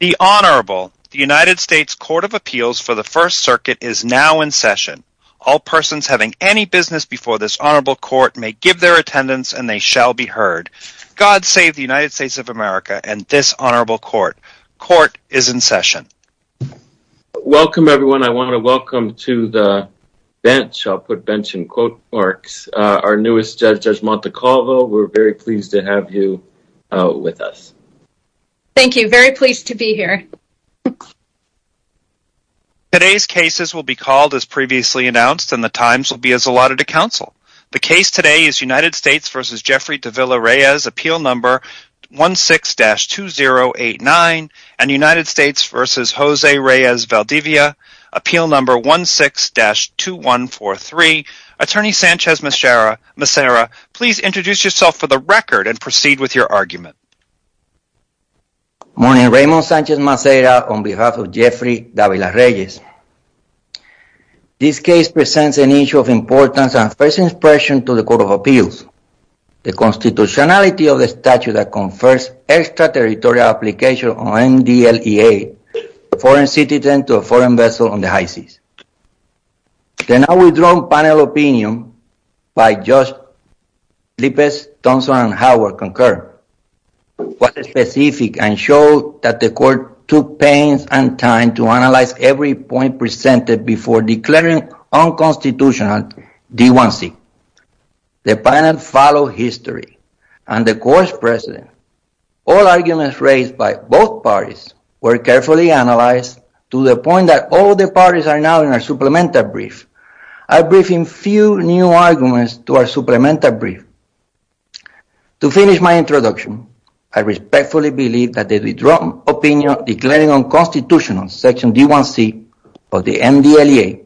The Honorable, the United States Court of Appeals for the First Circuit is now in session. All persons having any business before this Honorable Court may give their attendance and they shall be heard. God save the United States of America and this Honorable Court. Court is in session. Welcome everyone. I want to welcome to the bench. I'll put bench in quote marks Our newest judge, Judge Montecalvo. We're very pleased to have you with us. Thank you. Very pleased to be here. Today's cases will be called as previously announced and the times will be as allotted to counsel. The case today is United States v. Jeffrey Davila-Reyes, appeal number 16-2089 and United States v. Jose Reyes Valdivia, appeal number 16-2143. Attorney Sanchez Macera, please introduce yourself for the record and proceed with your argument. Morning, Raymond Sanchez Macera on behalf of Jeffrey Davila-Reyes. This case presents an issue of importance and first impression to the Court of Appeals. The constitutionality of the statute that confers extraterritorial application on MDLEA, foreign citizen to a foreign vessel on the high seas. The now withdrawn panel opinion by Judge Lippes, Thompson, and Howard concur was specific and showed that the Court took pains and time to analyze every point presented before declaring unconstitutional D1C. The panel followed history and the Court's precedent. All arguments raised by both parties were carefully analyzed to the point that all the parties are now in our supplemental brief. I'll brief in few new arguments to our supplemental brief. To finish my introduction, I respectfully believe that the withdrawn opinion declaring unconstitutional section D1C of the MDLEA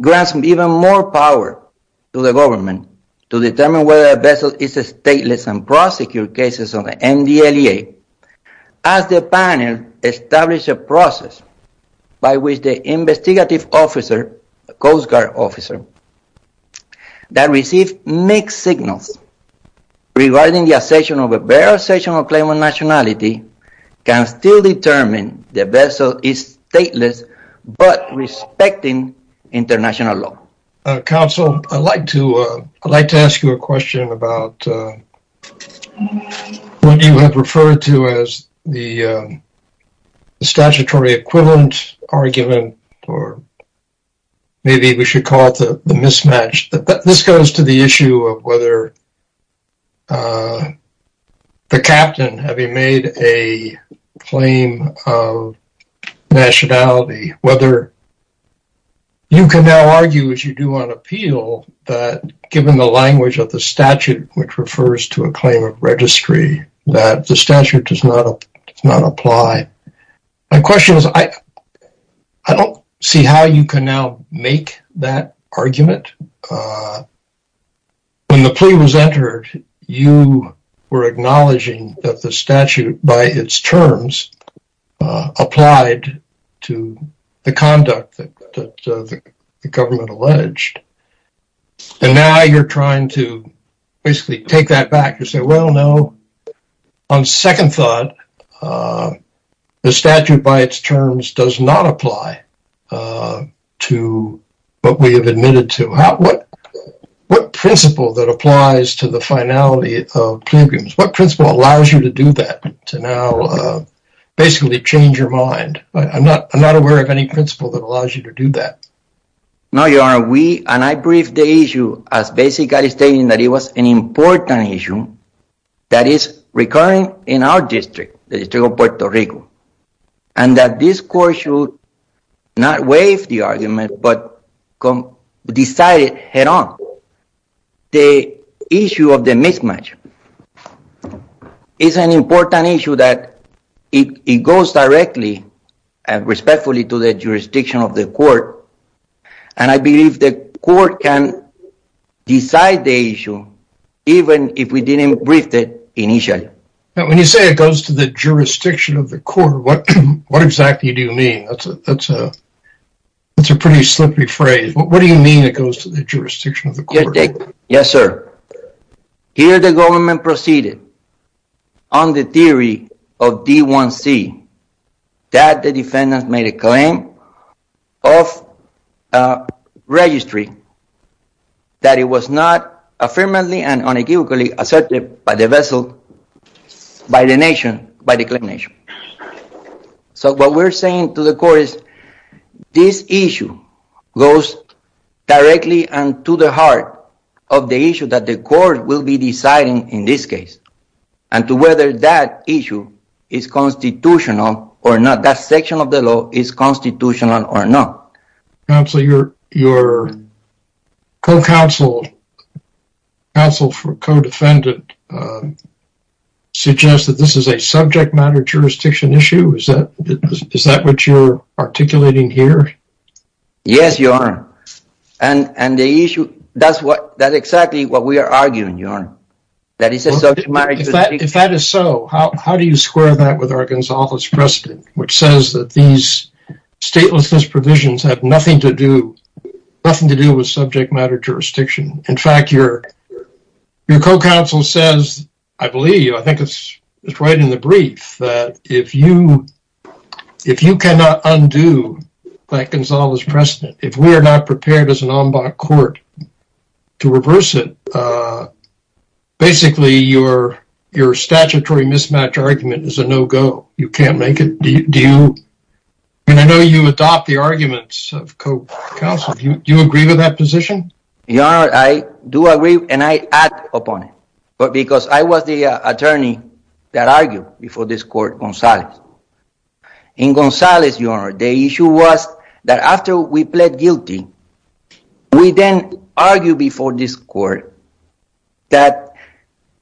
grants even more power to the government to determine whether a vessel is stateless and prosecute cases on the MDLEA. As the panel established a process by which the investigative officer, Coast Guard officer, that received mixed signals regarding the assertion of a bare assertion of claimant nationality can still determine the vessel is stateless but respecting international law. Counsel, I'd like to ask you a question about what you have referred to as the statutory equivalent argument or maybe we should call the mismatch. This goes to the issue of whether the captain, having made a claim of nationality, whether you can now argue as you do on appeal that given the language of the statute which refers to a claim of registry that the statute does not apply. My question is I don't see how you can now make that argument. When the plea was entered you were acknowledging that the statute by its terms applied to the conduct that the government alleged and now you're trying to basically take that back. You say well no, on second thought the statute by its terms does not apply to what we have admitted to. What principle that applies to the finality of clear agreements? What principle allows you to do that to now basically change your mind? I'm not aware of any principle that allows you to do that. No your honor, we and I briefed the issue as basically stating that it was an important issue that is recurring in our district, the district of Puerto Rico, and that this court should not waive the argument but come decide it head on. The issue of the mismatch is an important issue that it goes directly and respectfully to the jurisdiction of the court and I believe the court can decide the issue even if we didn't brief it initially. Now when you say it goes to the jurisdiction of the court, what exactly do you mean? That's a pretty slippery phrase. What do you mean it goes to the jurisdiction of the court? Yes sir, here the government proceeded on the theory of D1C that the defendant made a claim of registry that it was not affirmatively and unequivocally asserted by the vessel by the nation by declaration. So what we're saying to the court is this issue goes directly and to the heart of the issue that the court will be deciding in this case and to whether that issue is constitutional or not, that section of the law is constitutional or not. Counsel, your co-counsel, counsel for co-defendant suggests that this is a subject matter jurisdiction issue. Is that what you're articulating here? Yes, your honor, and the issue that's what that's exactly what we are arguing, your honor, that it's a subject matter. If that is so, how do you square that with Gonzalo's precedent, which says that these statelessness provisions have nothing to do nothing to do with subject matter jurisdiction. In fact, your co-counsel says, I believe, I think it's right in the brief that if you cannot undo that Gonzalo's precedent, if we are not prepared as an ombud court to reverse it, basically your statutory mismatch argument is a no-go. You can't make it. Do you, and I know you adopt the arguments of co-counsel, do you agree with that position? Your honor, I do agree and I act upon it, but because I was the attorney that argued before this court, Gonzalez. In Gonzalez, your honor, the issue was that after we pled guilty, we then argued before this court that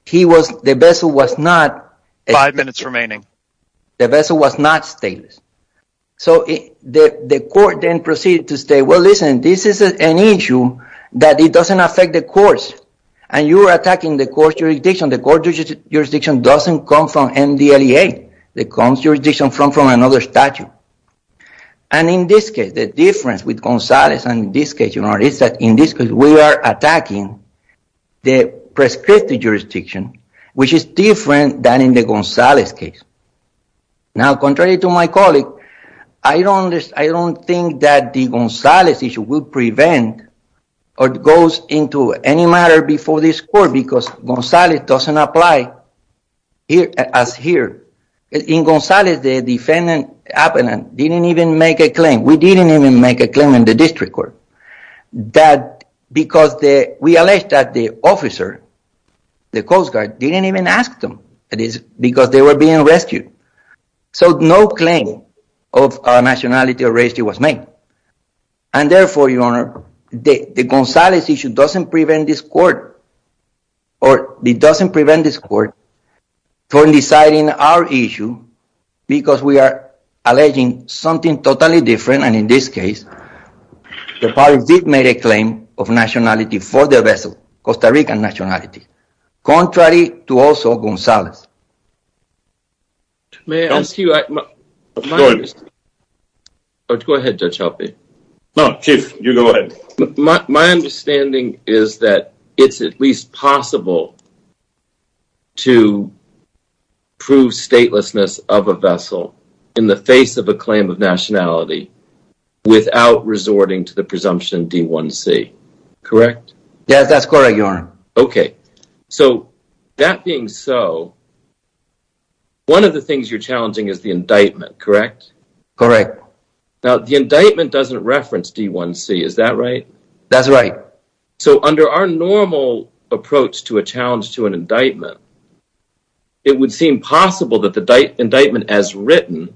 he was, the vessel was not. Five minutes remaining. The vessel was not stateless, so the court then proceeded to say, well listen, this is an issue that it doesn't affect the courts and you're attacking the court's jurisdiction. The court's MDLEA, the court's jurisdiction comes from another statute. And in this case, the difference with Gonzalez and in this case, your honor, is that in this case we are attacking the prescriptive jurisdiction, which is different than in the Gonzalez case. Now, contrary to my colleague, I don't think that the Gonzalez issue will prevent or goes into any matter before this court. It doesn't apply as here. In Gonzalez, the defendant didn't even make a claim. We didn't even make a claim in the district court. That because we alleged that the officer, the Coast Guard, didn't even ask them because they were being rescued. So no claim of nationality or race was made. And therefore, your honor, the Gonzalez issue doesn't prevent this court or it doesn't prevent this court from deciding our issue because we are alleging something totally different. And in this case, the parties did make a claim of nationality for the vessel, Costa Rican nationality, contrary to also Gonzalez. May I ask you, my understanding, my understanding is that it's at least possible to prove statelessness of a vessel in the face of a claim of nationality without resorting to the presumption D-1C, correct? Yes, that's correct, your honor. Okay, so that being so, one of the things you're challenging is the indictment, correct? Correct. Now, the indictment doesn't reference D-1C, is that right? That's right. So under our normal approach to a challenge to an indictment, it would seem possible that the indictment as written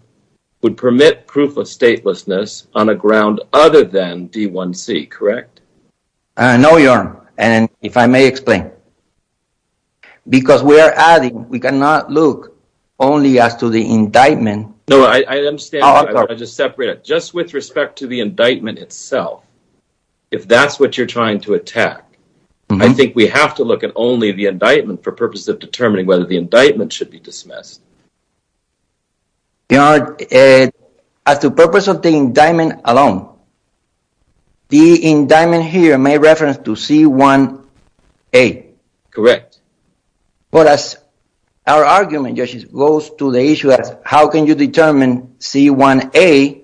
would permit proof of statelessness on a ground other than D-1C, correct? No, your honor, and if I may explain, because we are adding, we cannot look only as to the indictment. No, I understand, I just separate it. Just with respect to the indictment itself, if that's what you're trying to attack, I think we have to look at only the indictment for purposes of determining whether the indictment should be dismissed. Your honor, as the purpose of the indictment alone, the indictment here may reference to C-1A. Correct. But as our argument goes to the issue as how can you determine C-1A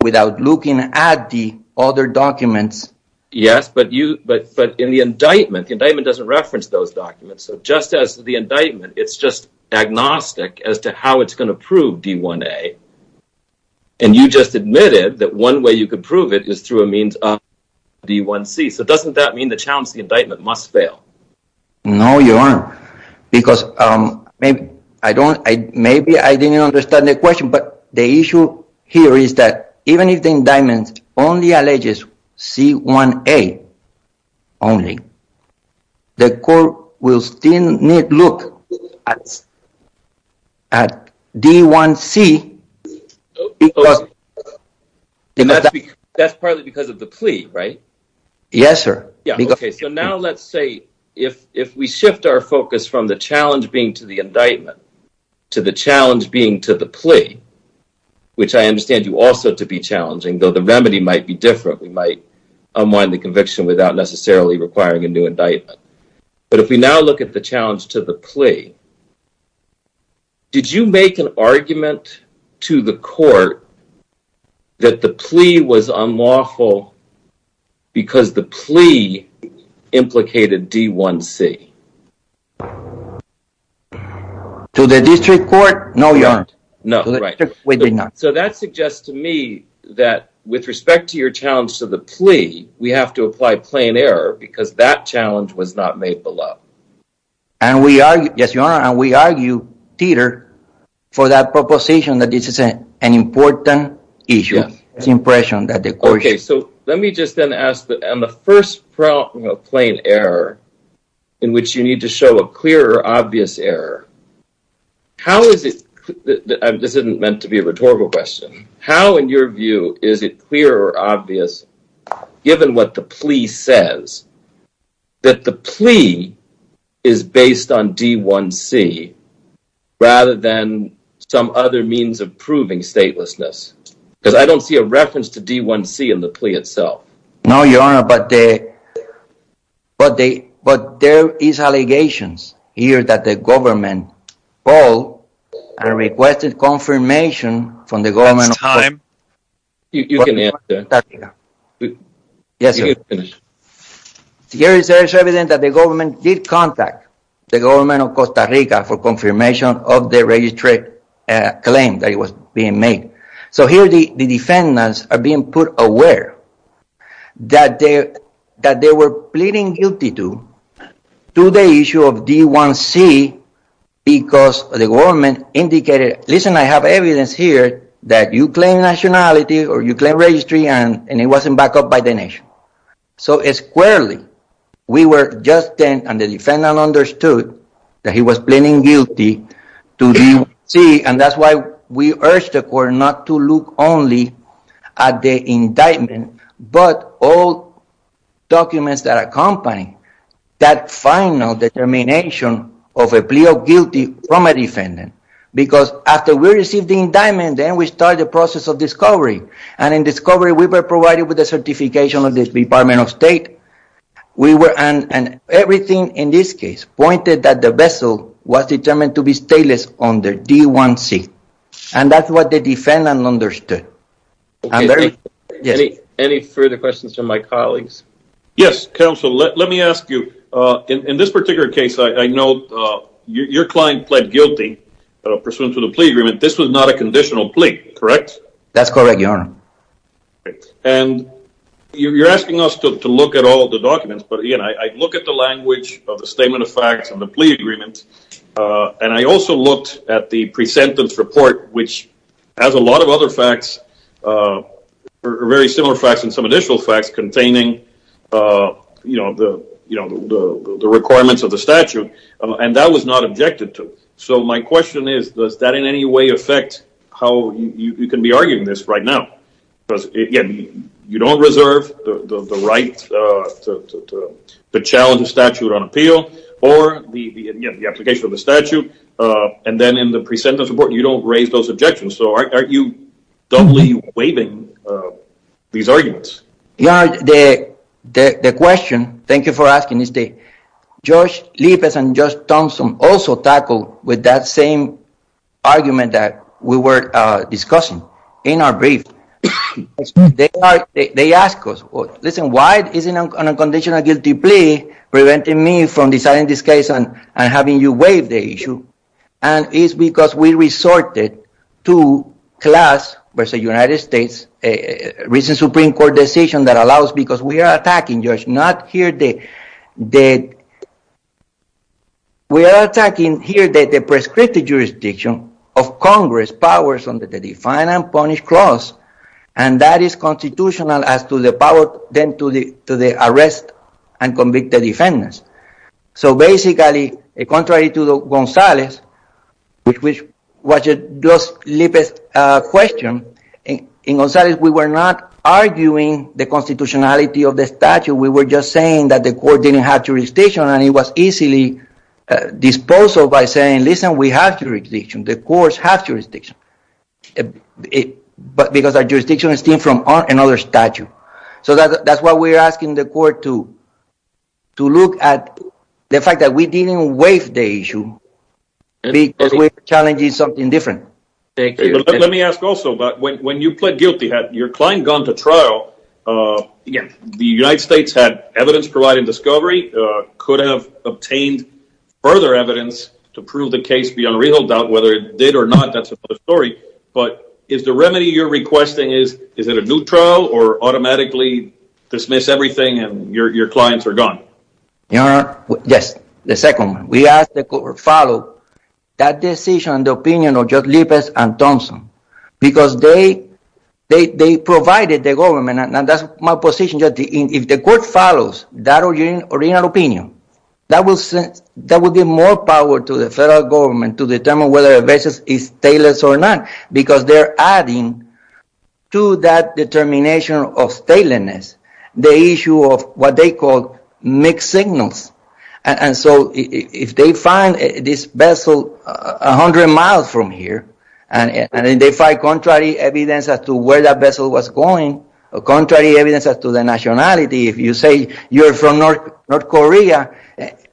without looking at the other documents? Yes, but in the indictment, the indictment doesn't reference those documents. So just as the indictment, it's just agnostic as to how it's going to prove D-1A, and you just admitted that one way you could prove it is through a means of D-1C. So doesn't that mean the challenge to the indictment must fail? No, your honor, because maybe I didn't understand the question, but the issue here is that even if the indictment only alleges C-1A only, the court will still need to look at D-1C. That's partly because of the plea, right? Yes, sir. Okay, so now let's say if we shift our focus from the challenge being to the indictment to the challenge being to the plea, which I understand you also to be challenging, though the remedy might be different. We might unwind the conviction without necessarily requiring a new indictment. But if we now look at the challenge to the plea, did you make an argument to the court that the plea was unlawful because the plea implicated D-1C? To the district court, no, your honor. No, right. So that suggests to me that with respect to your challenge to the plea, we have to apply plain error because that challenge was not made below. And we argue, yes, your honor, and we argue, Titor, for that proposition that this is an important issue. It's the impression that the court... Okay, so let me just then ask that on the first plain error in which you need to show a clear or obvious error, how is it... This isn't meant to be a rhetorical question. How, in your view, is it clear or obvious given what the plea says that the plea is based on D-1C rather than some other means of proving statelessness? Because I don't see a reference to D-1C in the plea itself. No, your honor, but but there is allegations here that the government called and requested confirmation from the government... That's time. You can answer. Yes, sir. Here it says it's evident that the government did contact the government of Costa Rica for confirmation of the registry claim that the defendants are being put aware that they were pleading guilty to the issue of D-1C because the government indicated, listen, I have evidence here that you claim nationality or you claim registry and it wasn't backed up by the nation. So squarely, we were just then and the defendant understood that he was pleading guilty to D-1C and that's why we urged the court not to look only at the indictment but all documents that accompany that final determination of a plea of guilty from a defendant because after we received the indictment, then we started the process of discovery and in discovery we were provided with the certification of the Department of State. We were and everything in this case pointed that the vessel was determined to be on the D-1C and that's what the defendant understood. Any further questions from my colleagues? Yes, counsel, let me ask you. In this particular case, I know your client pled guilty pursuant to the plea agreement. This was not a conditional plea, correct? That's correct, your honor. And you're asking us to look at all the documents but again, I look at the language of the statement of facts and the plea agreement and I also looked at the pre-sentence report which has a lot of other facts, very similar facts and some additional facts containing the requirements of the statute and that was not objected to. So my question is, does that in any way affect how you can be arguing this right now? Because again, you don't reserve the right to challenge the statute on appeal or the application of the statute and then in the pre-sentence report, you don't raise those objections. So aren't you doubly waiving these arguments? Your honor, the question, thank you for asking, is that Judge Lippes and Judge Thompson also tackled with that same argument that we were discussing in our brief. They asked us, listen, why is it an unconditional guilty plea preventing me from deciding this case and having you waive the issue? And it's because we resorted to class versus the United States, a recent Supreme Court decision that allows because we are attacking, Judge, not prescriptive jurisdiction of Congress powers under the Define and Punish Clause and that is constitutional as to the power then to the arrest and convict the defendants. So basically, contrary to Gonzalez, which was Judge Lippes' question, in Gonzalez we were not arguing the constitutionality of the statute. We were just saying that the court didn't have jurisdiction and it was easily disposed of by saying, listen, we have jurisdiction, the courts have jurisdiction. But because our jurisdiction is different from another statute. So that's why we're asking the court to look at the fact that we didn't waive the issue because we're challenging something different. Thank you. Let me ask also, when you pled guilty, had your client gone to trial, again, the United States had evidence providing discovery, could have obtained further evidence to prove the case beyond a real doubt whether it did or not, that's another story, but is the remedy you're requesting, is it a new trial or automatically dismiss everything and your clients are gone? Yes, the second one. We asked the court to follow that decision, the opinion of Judge Lippes, and that's my position. If the court follows that original opinion, that will give more power to the federal government to determine whether a vessel is stateless or not, because they're adding to that determination of statelessness, the issue of what they call mixed signals. And so if they find this vessel 100 miles from here, and they find contrary evidence as to that vessel was going, or contrary evidence as to the nationality, if you say you're from North Korea,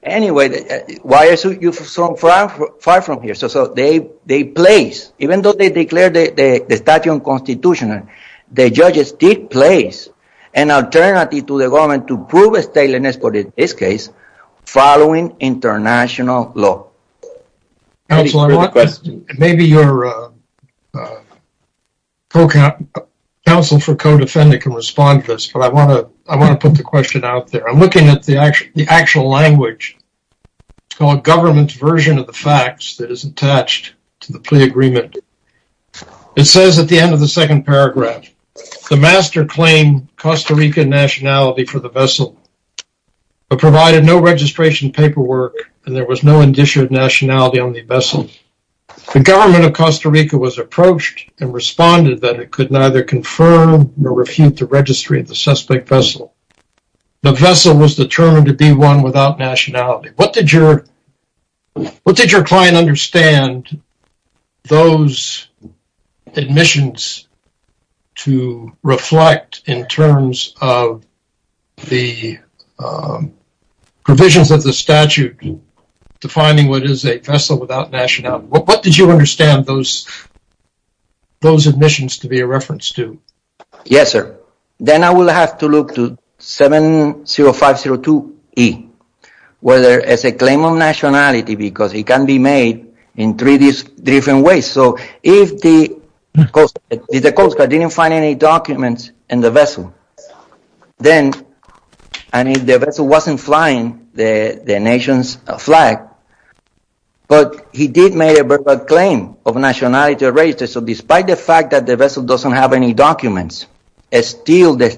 anyway, why are you so far from here? So they place, even though they declared the statute unconstitutional, the judges did place an alternative to the government to prove this case following international law. Counselor, maybe your counsel for co-defendant can respond to this, but I want to put the question out there. I'm looking at the actual language. It's called government's version of the facts that is attached to the plea agreement. It says at the end of the second paragraph, the master claimed Costa Rican nationality for the vessel, but provided no registration paperwork, and there was no indicia of nationality on the vessel. The government of Costa Rica was approached and responded that it could neither confirm nor refute the registry of the suspect vessel. The vessel was determined to be one without nationality. What did your client understand those admissions to reflect in terms of the provisions of the statute defining what is a vessel without nationality? What did you understand those admissions to be a reference to? Yes, sir. Then I will have to look to 70502E, where there is a claim of nationality because it can be made in three different ways. So if the coast guard didn't find any documents in the vessel, and if the vessel wasn't flying the nation's flag, but he did make a verbal claim of nationality, so despite the fact that the vessel doesn't have any documents, still the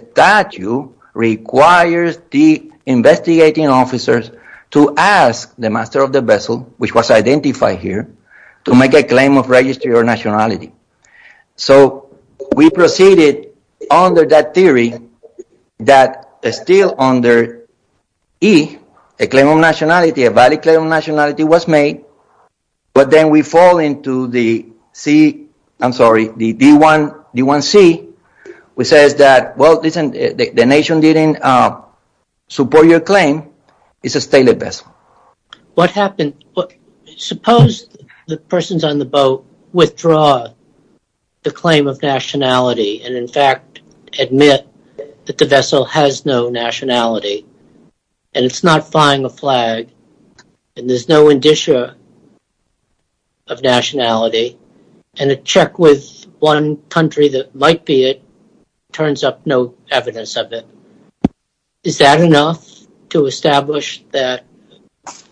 investigating officers to ask the master of the vessel, which was identified here, to make a claim of registry or nationality. So we proceeded under that theory that still under E, a claim of nationality, a valid claim of nationality was made, but then we fall into the I'm sorry, the D1C, which says that, well, listen, the nation didn't support your claim, it's a stateless vessel. What happened, suppose the persons on the boat withdraw the claim of nationality and in fact admit that the vessel has no nationality, and it's not flying a flag, and there's no indicia of nationality, and a check with one country that might be it, turns up no evidence of it. Is that enough to establish that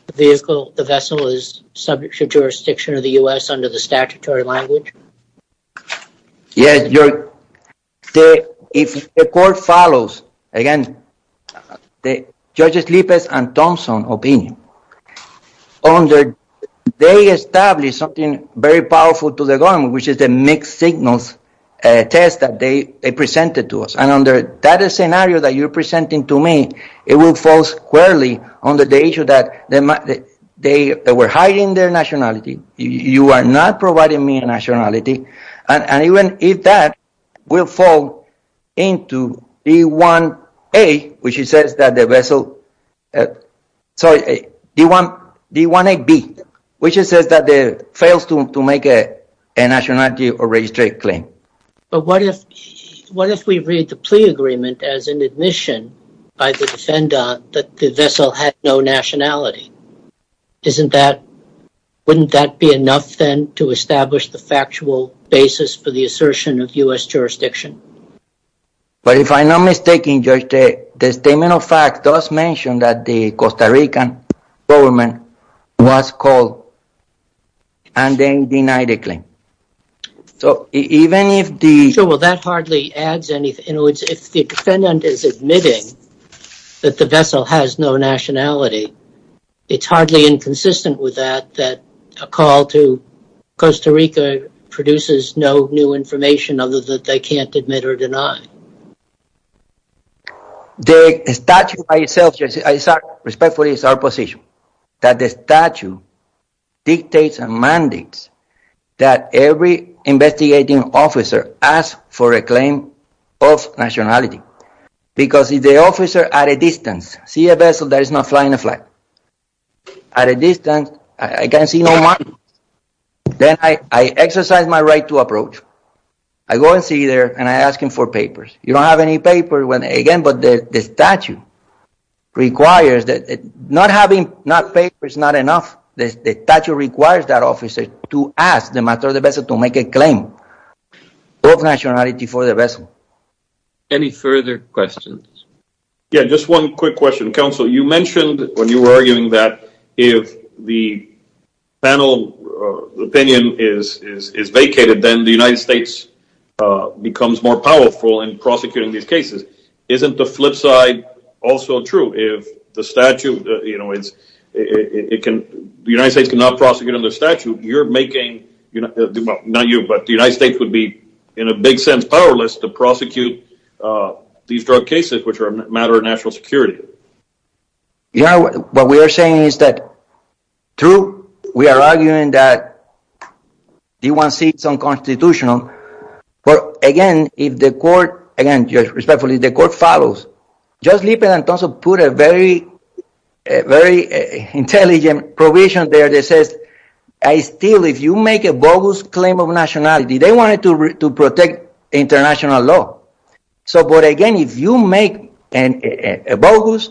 the vehicle, the vessel is subject to jurisdiction of the U.S. under the statutory language? Yes, if the court follows, again, the judges Lipez and Thompson opinion, under, they established something very powerful to the government, which is the mixed signals test that they presented to us, and under that scenario that you're presenting to me, it will fall squarely on the issue that they were hiding their nationality, you are not providing me a nationality, and even if that, we'll fall into D1A, which says that the vessel, sorry, D1AB, which says that they failed to make a nationality or a straight claim. But what if we read the plea agreement as an admission by the defender that the vessel had no nationality? Isn't that, wouldn't that be enough, then, to establish the factual basis for the assertion of U.S. jurisdiction? But if I'm not mistaken, Judge, the statement of fact does mention that the Costa Rican government was called and then denied a claim. So, even if the... Sure, well, that hardly adds anything, if the defendant is admitting that the vessel has no nationality, it's hardly inconsistent with that, that a call to Costa Rica produces no new information other that they can't admit or deny. The statute by itself, respectfully, is our position, that the statute dictates and mandates that every investigating officer asks for a claim of nationality, because if the officer, at a distance, sees a vessel that is not flying a flight, at a distance, I can't see no markings, then I exercise my right to approach. I go and see there, and I ask him for papers. You don't have any papers, again, but the statute requires that, not having papers is not enough, the statute requires that officer to ask the matter of the vessel to make a claim of nationality for the vessel. Any further questions? Yeah, just one quick question. Counsel, you mentioned when you were arguing that if the panel opinion is vacated, then the United States becomes more powerful in prosecuting these cases. Isn't the flip side also true? If the statute, you know, it can, the United States cannot prosecute under statute, you're making, not you, but the United States would be, in a big sense, powerless to prosecute these drug cases which are a matter of national security. Yeah, what we are saying is that, true, we are arguing that D1C is unconstitutional, but again, if the court, again, respectfully, if the court follows, Judge Lieberthal also put a very intelligent provision there that says, I still, if you make a bogus claim of nationality, they wanted to protect international law, so, but again, if you make a bogus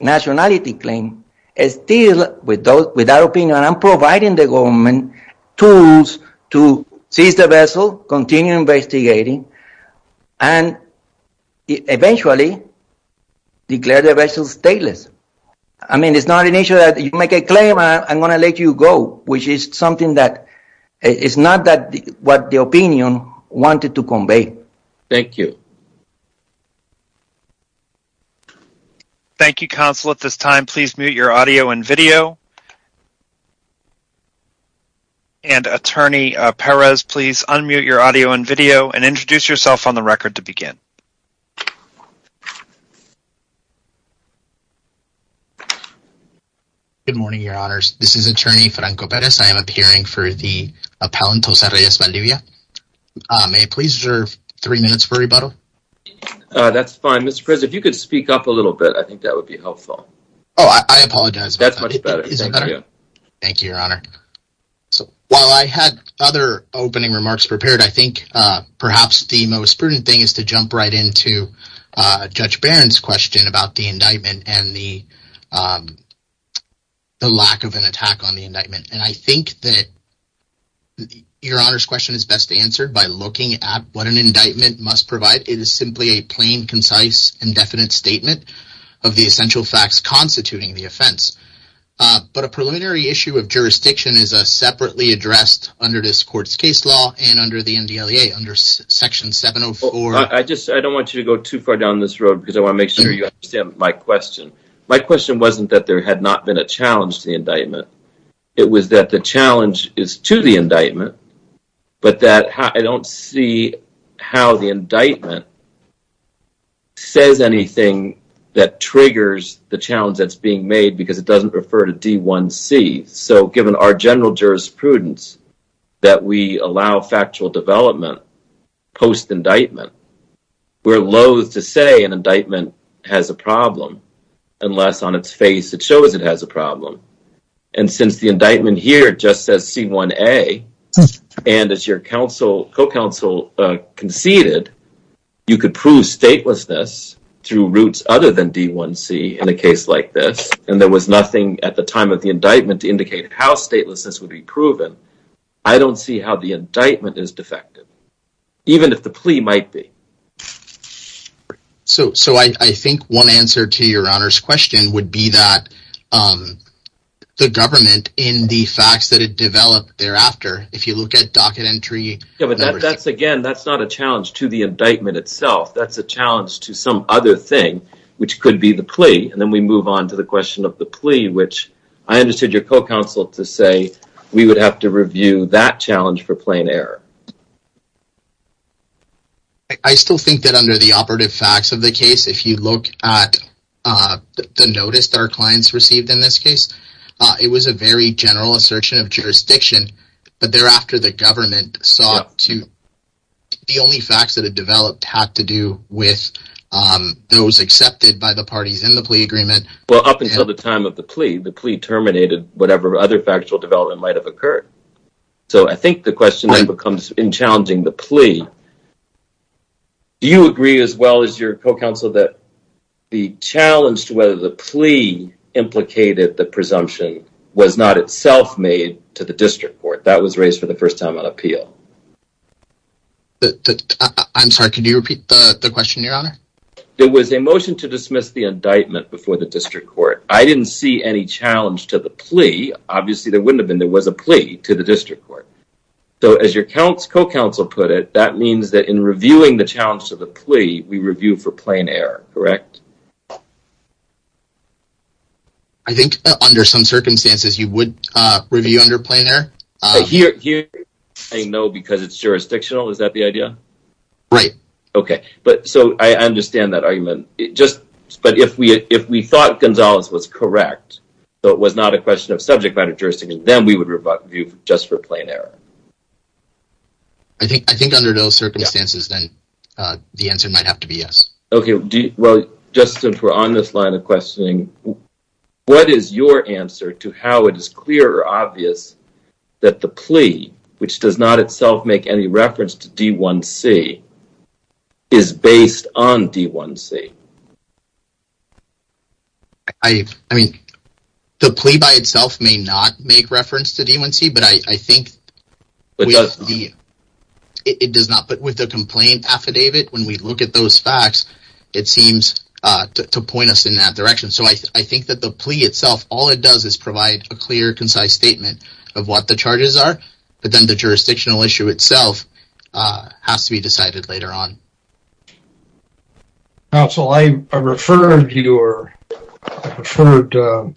nationality claim, it's still without opinion, and I'm providing the government tools to seize the vessel, continue investigating, and eventually declare the vessel stateless. I mean, it's not an issue that you make a claim, I'm going to let you go, which is something that, it's not that what the opinion wanted to convey. Thank you. Thank you, counsel. At this time, please mute your audio and video, and attorney Perez, please unmute your audio and video, and introduce yourself on the record to begin. Good morning, your honors. This is attorney Franco Perez. I am appearing for the appellant, Jose Reyes Valdivia. May I please reserve three minutes for rebuttal? That's fine, Mr. Perez. If you could speak up a little bit, I think that would be helpful. Oh, I apologize. That's much better. Thank you, your honor. So, while I had other opening remarks prepared, I think, perhaps the most prudent thing is to jump right into Judge Barron's question about the indictment, and the lack of an attack on the indictment, and I think that your honor's question is best answered by looking at what an indictment must provide. It is simply a plain, concise, indefinite statement of the essential facts constituting the offense, but a preliminary issue of jurisdiction is separately addressed under this court's case law and under the NDLEA, under section 704. I just don't want you to go too far down this road, because I want to make sure you understand my question. My question wasn't that there had not been a challenge to the indictment. It was that the challenge is to the indictment, but that I don't see how the indictment says anything that triggers the challenge that's being made, because it doesn't refer to D1C. So, given our general jurisprudence that we allow factual development post-indictment, we're loathe to say an indictment has a problem unless on its face it shows it has a problem, and since the indictment here just says C1A, and as your counsel, co-counsel conceded, you could prove statelessness through roots other than D1C in a case like this, and there was nothing at the time of the indictment to indicate how statelessness would be proven. I don't see how the indictment is defective, even if the plea might be. So, I think one answer to your honor's question would be that the government, in the facts that it developed thereafter, if you look at docket entry... Again, that's not a challenge to the indictment itself. That's a challenge to some other thing, which could be the plea, and then we move on to the question of the plea, which I understood your co-counsel to say we would have to review that challenge for plain error. I still think that under the operative facts of the case, if you look at the notice our clients received in this case, it was a very general assertion of jurisdiction, but thereafter the the only facts that had developed had to do with those accepted by the parties in the plea agreement. Well, up until the time of the plea, the plea terminated whatever other factual development might have occurred. So, I think the question then becomes in challenging the plea, do you agree as well as your co-counsel that the challenge to whether the plea implicated the presumption was not itself made to the district court? That was raised for the first time on appeal. I'm sorry, could you repeat the question, your honor? There was a motion to dismiss the indictment before the district court. I didn't see any challenge to the plea. Obviously, there wouldn't have been. There was a plea to the district court. So, as your co-counsel put it, that means that in reviewing the challenge to the plea, we review for plain error, correct? I think under some circumstances you would review under plain error. Here, I know because it's jurisdictional, is that the idea? Right. Okay, but so I understand that argument. It just, but if we if we thought Gonzalez was correct, so it was not a question of subject matter jurisdiction, then we would review just for plain error. I think under those circumstances, then the answer might have to be yes. Okay, well, just since we're on this line of questioning, what is your answer to how it is clear or obvious that the plea, which does not itself make any reference to D1C, is based on D1C? I mean, the plea by itself may not make reference to D1C, but I think it does not. But with the complaint affidavit, when we look at those facts, it seems to point us in that direction. So, I think that the plea itself, all it does is provide a clear, concise statement of what the charges are, but then the jurisdictional issue itself has to be decided later on. Counsel, I referred your, I referred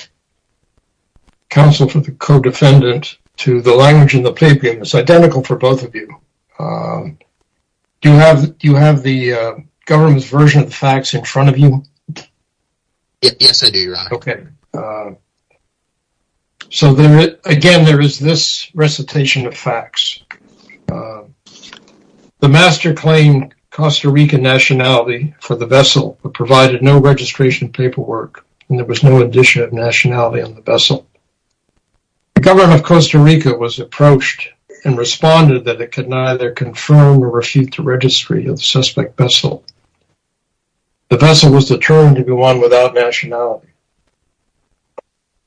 counsel for the co-defendant to the language in the plea agreement. It's identical for both of you. Do you have the government's version of the facts in front of you? Yes, I do, Your Honor. Okay. So, again, there is this recitation of facts. The master claimed Costa Rica nationality for the vessel, but provided no registration paperwork, and there was no addition of nationality on the vessel. The government of Costa Rica was approached and responded that it could neither confirm or refute the registry of the suspect vessel. The vessel was determined to be one without nationality.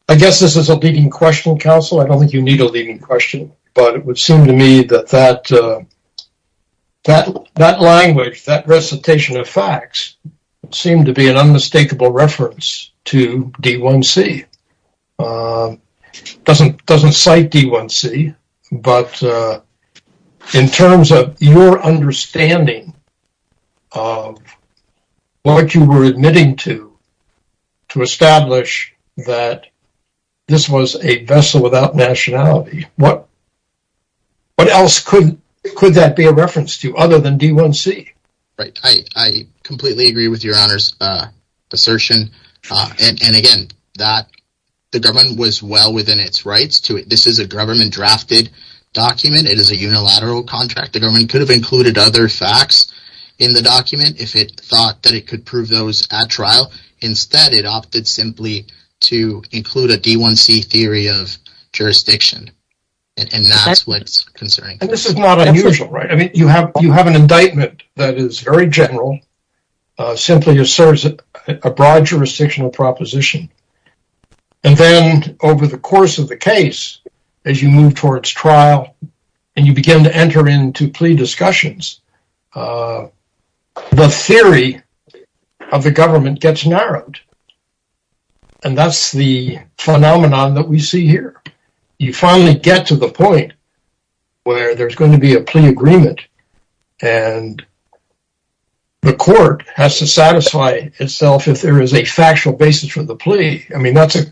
I guess this is a leading question, counsel. I don't think you need a leading question, but it would seem to me that that language, that recitation of facts, seemed to be an unmistakable reference to D1C. It doesn't cite D1C, but in terms of your understanding of what you were admitting to, to establish that this was a vessel without nationality, what else could that be a reference to other than D1C? Right, I completely agree with Your Honor's assertion, and again, that the government was well within its rights to it. This is a government-drafted document. It is a unilateral contract. The government could have included other facts in the document if it thought that it could prove those at trial. Instead, it opted simply to include a D1C theory of jurisdiction, and that's what's concerning. This is not unusual, right? I mean, you have an indictment that is very general, simply asserts a broad jurisdictional proposition, and then over the course of the case, as you move towards trial and you begin to enter into plea discussions, the theory of the government gets narrowed, and that's the phenomenon that we see here. You finally get to the point where there's going to be a plea agreement, and the court has to satisfy itself if there is a factual basis for the plea. I mean, that's a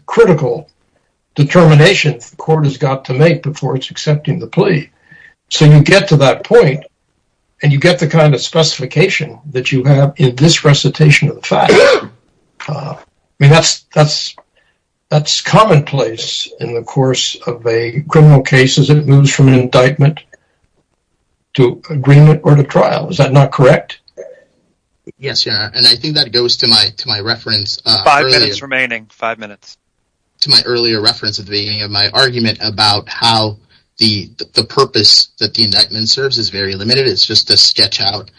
before it's accepting the plea. So, you get to that point, and you get the kind of specification that you have in this recitation of the fact. I mean, that's commonplace in the course of a criminal case as it moves from an indictment to agreement or to trial. Is that not correct? Yes, Your Honor, and I think that goes to my reference. Five minutes remaining. Five minutes. To my earlier reference at the beginning of my argument about how the purpose that the indictment serves is very limited. It's just to sketch out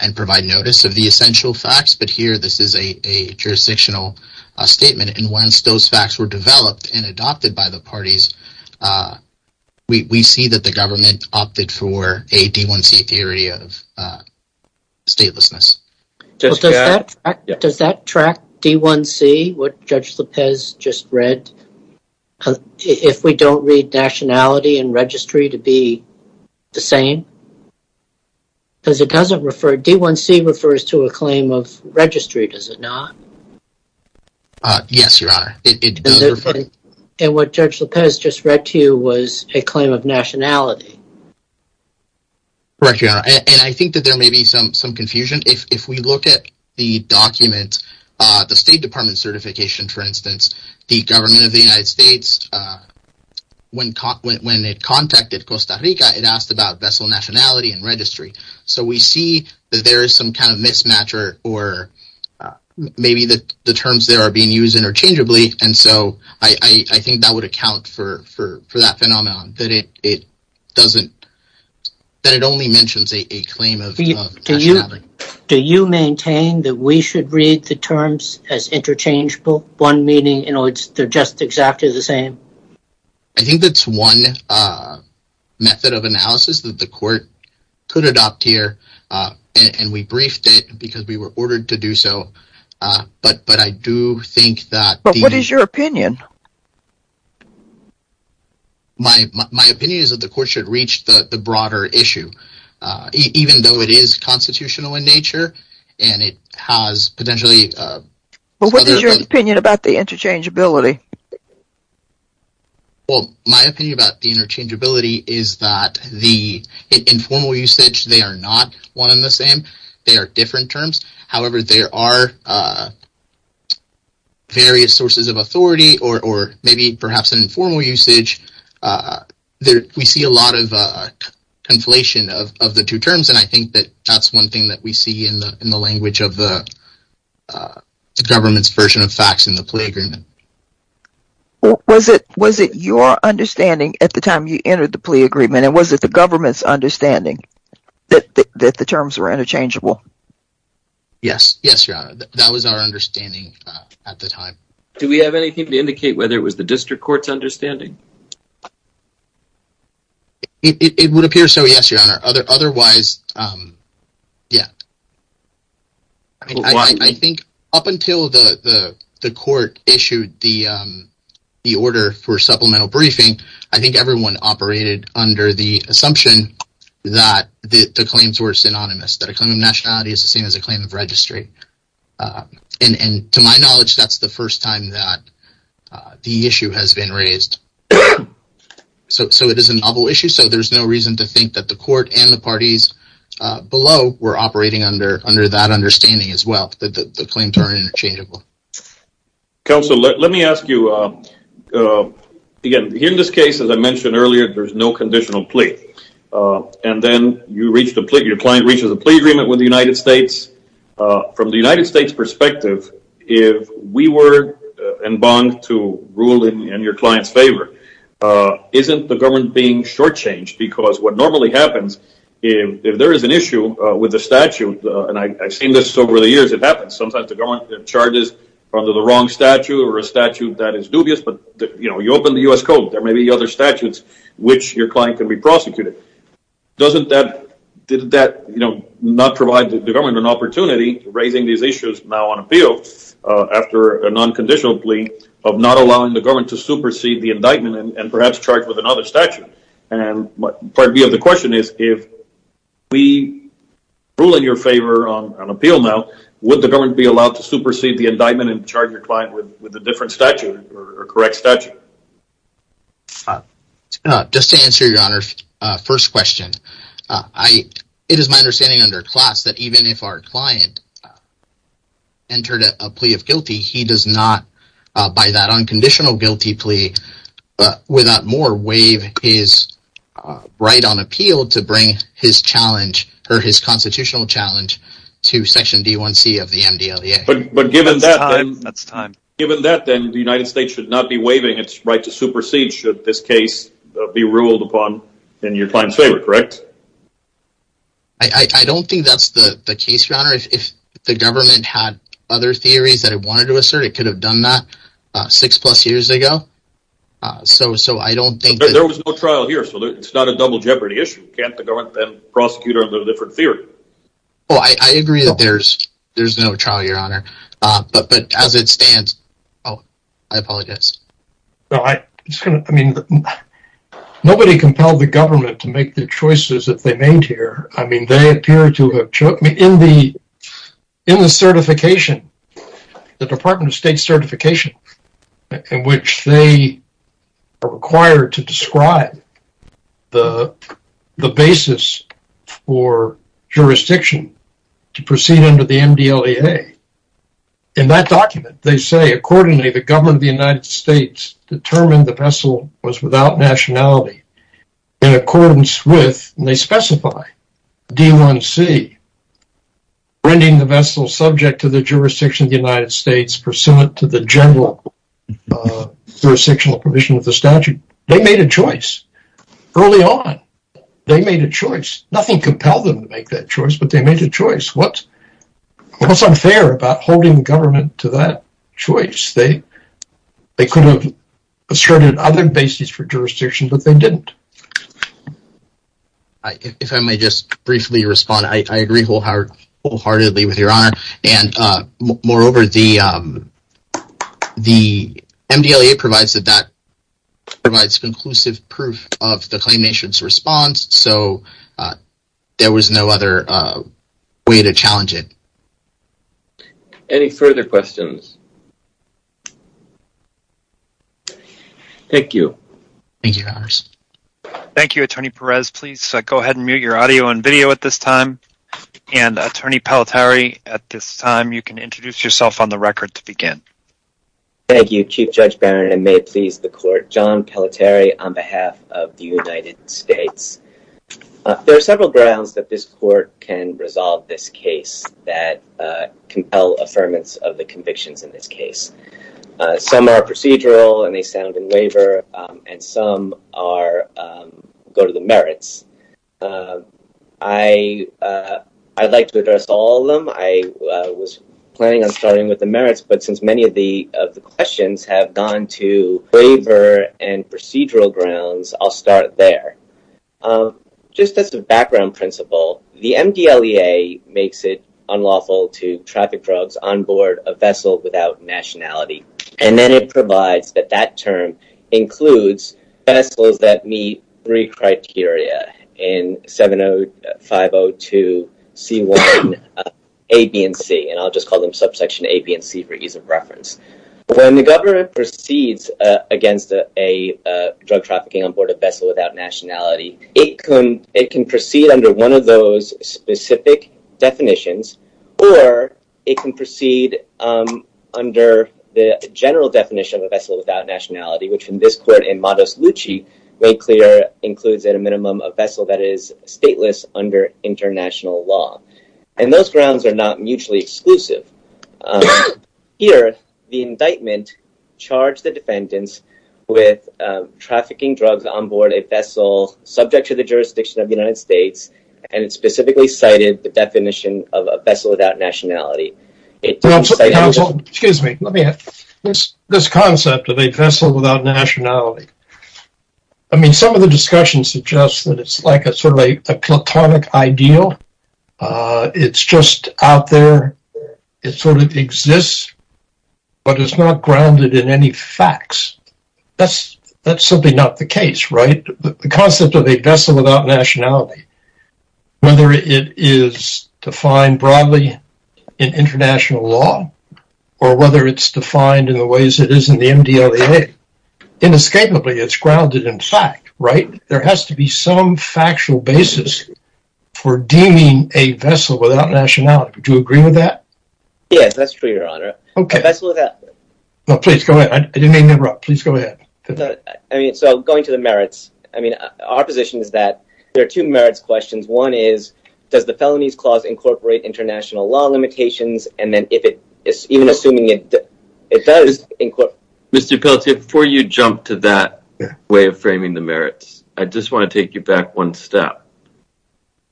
and provide notice of the essential facts, but here this is a jurisdictional statement, and once those facts were developed and adopted by the parties, we see that the government opted for a D1C theory of statelessness. Does that track D1C, what Judge Lopez just read, if we don't read nationality and registry to be the same? Because it doesn't refer, D1C refers to a claim of registry, does it not? Yes, Your Honor. And what Judge Lopez just read to you was a claim of nationality. Correct, Your Honor, and I think that there may be some confusion. If we look at the document, the State Department certification, for instance, the government of the United States, when it contacted Costa Rica, it asked about vessel nationality and registry. So we see that there is some kind of mismatch or maybe the terms there are being used interchangeably, and so I think that would account for that phenomenon, that it doesn't, that it only mentions a claim of nationality. Do you maintain that we should read the terms as interchangeable, one meaning, you know, they're just exactly the same? I think that's one method of analysis that the Court could adopt here, and we briefed it because we were ordered to do so, but I do think that... But what is your opinion? My opinion is that the Court should reach the broader issue, even though it is constitutional in nature, and it has potentially... But what is your opinion about the interchangeability? Well, my opinion about the interchangeability is that the informal usage, they are not one the same, they are different terms. However, there are various sources of authority, or maybe perhaps an informal usage. We see a lot of conflation of the two terms, and I think that that's one thing that we see in the language of the government's version of facts in the plea agreement. Was it your understanding at the time you entered the plea agreement, and was it the government's understanding that the terms were interchangeable? Yes, yes, Your Honor. That was our understanding at the time. Do we have anything to indicate whether it was the District Court's understanding? It would appear so, yes, Your Honor. Otherwise, yeah. I think up until the Court issued the order for supplemental briefing, I think everyone operated under the assumption that the claims were synonymous, that a claim of nationality is the same as a claim of registry. And to my knowledge, that's the first time that the issue has been raised. So it is a novel issue, so there's no reason to think that the Court and the parties below were operating under that understanding as well, that the claims are interchangeable. Counsel, let me ask you, again, in this case, as I mentioned earlier, there's no conditional plea. And then your client reaches a plea agreement with the United States. From the United States' perspective, if we were in bond to rule in your client's favor, isn't the government being shortchanged? Because what normally happens, if there is an issue with the statute, and I've seen this over the years, it happens. Sometimes the government charges under the wrong statute or a statute that is dubious, but you open the U.S. Code, there may be other statutes which your client can be prosecuted. Didn't that not provide the government an opportunity, raising these issues now on appeal, after a non-conditional plea, of not allowing the government to supersede the indictment and perhaps charge with another statute? And part B of the question is, if we rule in your favor on appeal now, would the government be allowed to supersede the indictment and charge your client with a different statute or correct statute? Just to answer your honor's first question, it is my understanding under CLAS that even if our client entered a plea of guilty, he does not, by that unconditional guilty plea, without more, his right on appeal to bring his constitutional challenge to Section D1C of the MDLEA. Given that, then the United States should not be waiving its right to supersede should this case be ruled upon in your client's favor, correct? I don't think that's the case, your honor. If the government had other theories that it wanted to assert, it could have done that six plus years ago. There was no trial here, so it's not a double jeopardy issue. Can't the government then prosecute under a different theory? Oh, I agree that there's no trial, your honor. But as it stands... Oh, I apologize. Nobody compelled the government to make the choices that they made here. I mean, they appear to have... In the certification, the Department of State certification, in which they are required to describe the basis for jurisdiction to proceed under the MDLEA. In that document, they say, accordingly, the government of the United States determined the vessel was without nationality in accordance with, and they specify, D1C, rending the vessel subject to the jurisdiction of the United States pursuant to the general jurisdictional provision of the statute. They made a choice. Early on, they made a choice. Nothing compelled them to make that choice, but they made a choice. What's unfair about holding government to that choice? They could have asserted other basis for jurisdiction, but they didn't. If I may just briefly respond, I agree wholeheartedly with your honor, and moreover, the MDLEA provides conclusive proof of the Claim Nation's response, so there was no other way to challenge it. Any further questions? Thank you. Thank you, Your Honors. Thank you, Attorney Perez. Please go ahead and mute your audio and video at this time, and Attorney Pelleteri, at this time, you can introduce yourself on the record to begin. Thank you, Chief Judge Barron, and may it please the court, John Pelleteri on behalf of the United States. There are several grounds that this court can resolve this case that compel affirmance of the convictions in this case. Some are procedural, and they stand in waiver, and some go to the merits. I'd like to address all of them. I was planning on starting with the merits, but since many of the questions have gone to waiver and procedural grounds, I'll start there. Just as a background principle, the MDLEA makes it unlawful to traffic drugs on board a vessel without nationality, and then it provides that that term includes vessels that meet three criteria in 70502 C1, A, B, and C, and I'll just call them subsection A, B, and C for ease of reference. When the government proceeds against a drug trafficking on board a vessel without nationality, it can proceed under one of those specific definitions, or it can proceed under the general definition of a vessel without nationality, which in this court, Modus Luci, made clear includes at a minimum a vessel that is stateless under international law, and those grounds are not mutually exclusive. Here, the indictment charged the defendants with trafficking drugs on board a vessel subject to the jurisdiction of the United States, and it specifically cited the definition of a vessel without nationality. Well, excuse me, let me ask, this concept of a vessel without nationality, I mean, some of the discussion suggests that it's like a sort of a platonic ideal, it's just out there, it sort of exists, but it's not grounded in any facts. That's simply not the case, right? The concept of a vessel without nationality, whether it is defined broadly in international law, or whether it's defined in the ways it is in the MDLAA, inescapably, it's grounded in fact, right? There has to be some factual basis for deeming a vessel without nationality. Would you agree with that? Yes, that's true, your honor. Okay. No, please go ahead. I didn't mean to interrupt. Please go ahead. I mean, so going to the merits, I mean, our position is that there are two merits questions. One is, does the Felonies Clause incorporate international law limitations? And then if it is, even assuming it does... Mr. Peltier, before you jump to that way of framing the merits, I just want to take you back one step,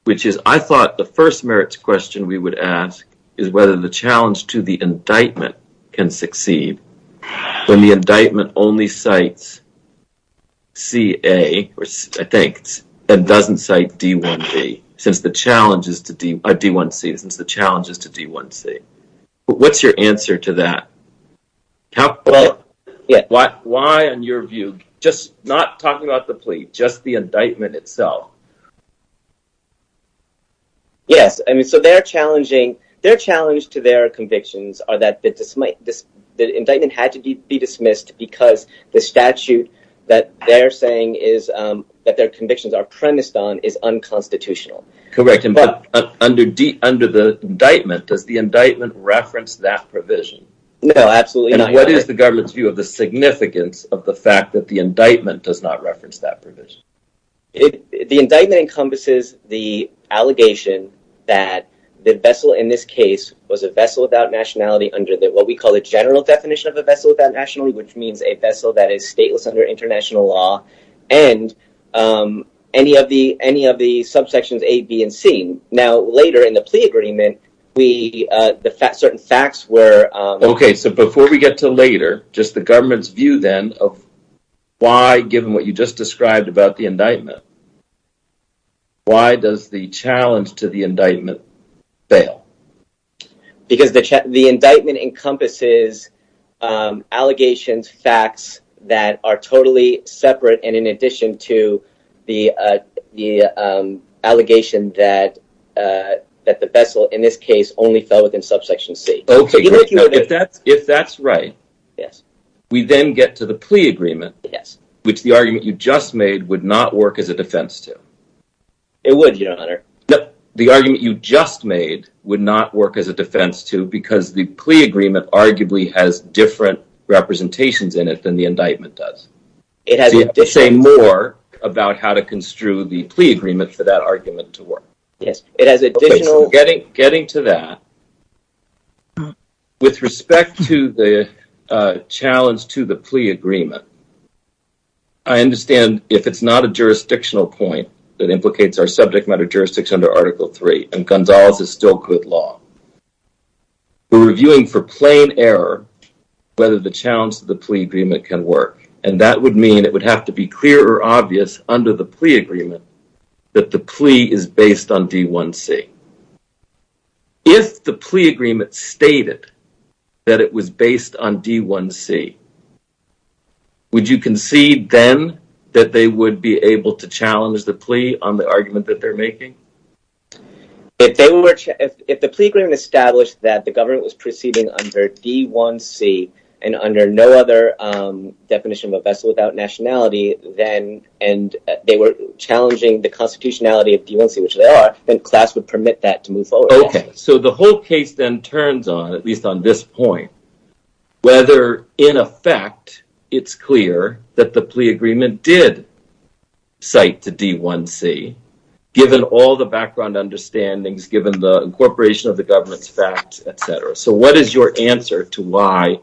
which is, I thought the first merits question we would ask is whether the challenge to the indictment can succeed when the indictment only cites CA, or I think, and doesn't cite D1C, since the challenge is to D1C. What's your answer to that? Why, in your view, just not talking about the plea, just the indictment itself? Yes, I mean, so their challenge to their convictions are that the indictment had to be dismissed because the statute that they're saying is, that their convictions are premised on is unconstitutional. Correct, but under the indictment, does the indictment reference that provision? No, absolutely not. And what is the government's view of the significance of the fact that the indictment does not reference that provision? The indictment encompasses the allegation that the vessel in this case was a vessel without nationality under what we call the general definition of a vessel without nationality, which means a vessel that is stateless under international law, and any of the subsections A, B, and C. Now, later in the plea agreement, certain facts were... Okay, so before we get to later, just the government's view then of why, given what you just described about the indictment, why does the challenge to the indictment, is allegations, facts that are totally separate and in addition to the allegation that the vessel in this case only fell within subsection C? Okay, if that's right, we then get to the plea agreement, which the argument you just made would not work as a defense to. It would, your honor. No, the argument you just made would not work as a defense to because the plea agreement arguably has different representations in it than the indictment does. It has... Say more about how to construe the plea agreement for that argument to work. Yes, it has additional... Getting to that, with respect to the challenge to the plea agreement, I understand if it's not a jurisdictional point that implicates our subject matter under Article 3, and Gonzalez is still good law. We're reviewing for plain error whether the challenge to the plea agreement can work, and that would mean it would have to be clear or obvious under the plea agreement that the plea is based on D1C. If the plea agreement stated that it was based on D1C, would you concede then that they would be able to challenge the plea on the argument that they're making? If the plea agreement established that the government was proceeding under D1C and under no other definition of a vessel without nationality, and they were challenging the constitutionality of D1C, which they are, then class would permit that to move forward. Okay, so the whole case then turns on, at least on this point, whether in effect it's clear that the plea all the background understandings, given the incorporation of the government's facts, etc. So what is your answer to why,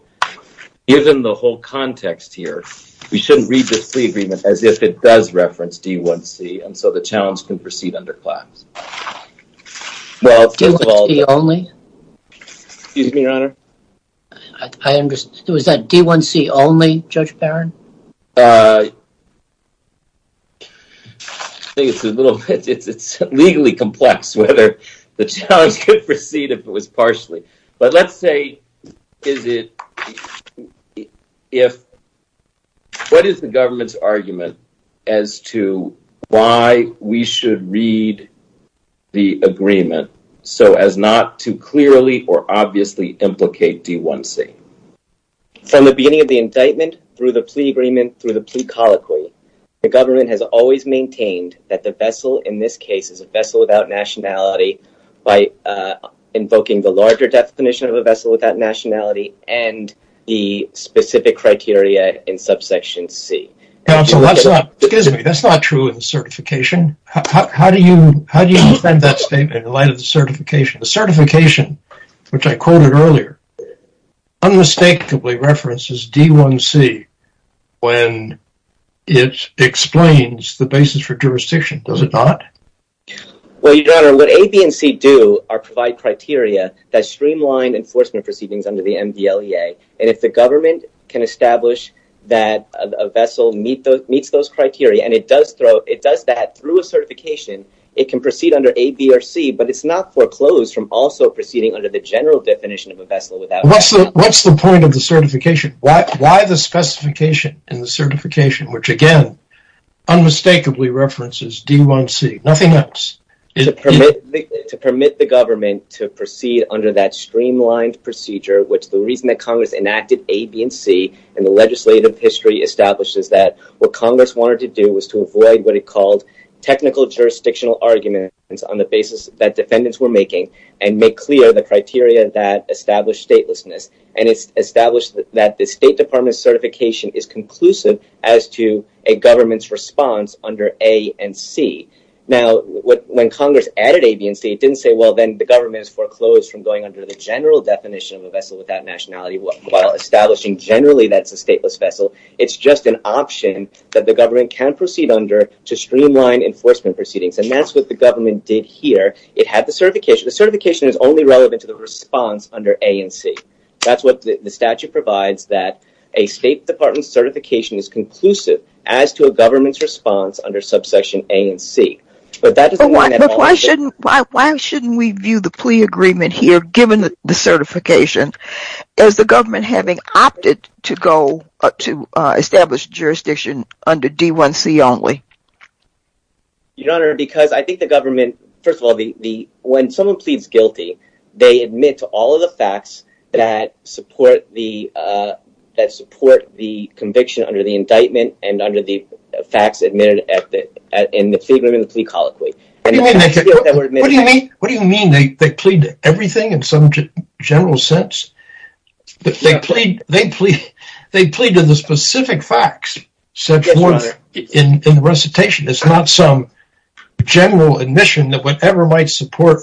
given the whole context here, we shouldn't read the plea agreement as if it does reference D1C, and so the challenge can proceed under class? Well, first of all... D1C only? Excuse me, your honor? I understand. Was that D1C only, Judge Barron? Uh, I think it's a little, it's legally complex whether the challenge could proceed if it was partially, but let's say, is it, if, what is the government's argument as to why we should read the agreement so as not to clearly or obviously implicate D1C? From the beginning of the indictment, through the plea agreement, through the plea colloquy, the government has always maintained that the vessel, in this case, is a vessel without nationality by invoking the larger definition of a vessel without nationality and the specific criteria in subsection C. Counsel, that's not, excuse me, that's not true in the certification. How do you, how do you defend that statement in light of the certification? The certification, which I quoted earlier, unmistakably references D1C when it explains the basis for jurisdiction, does it not? Well, your honor, what A, B, and C do are provide criteria that streamline enforcement proceedings under the MDLEA, and if the government can establish that a vessel meets those criteria and it does throw, it does that through a certification, it can proceed under A, B, or C, but it's not foreclosed from also proceeding under the general definition of a vessel without nationality. What's the point of the certification? Why the specification in the certification, which again unmistakably references D1C, nothing else? To permit the government to proceed under that streamlined procedure, which the reason that Congress enacted A, B, and C in the legislative history establishes that what Congress wanted to do was to avoid what on the basis that defendants were making and make clear the criteria that established statelessness, and it's established that the State Department certification is conclusive as to a government's response under A and C. Now, when Congress added A, B, and C, it didn't say, well, then the government is foreclosed from going under the general definition of a vessel without nationality while establishing generally that's a stateless vessel. It's just an option that the government can proceed under to streamline enforcement proceedings, and that's what the government did here. It had the certification. The certification is only relevant to the response under A and C. That's what the statute provides, that a State Department certification is conclusive as to a government's response under subsection A and C, but that doesn't mean that... Why shouldn't we view the plea agreement here, given the certification, as the government having opted to go to establish jurisdiction under D1C only? Your Honor, because I think the government... First of all, when someone pleads guilty, they admit to all of the facts that support the conviction under the indictment and under the facts admitted in the plea agreement and the plea colloquy. What do you mean they plead to everything in some general sense? They plead to the specific facts in the recitation. It's not some general admission that whatever might support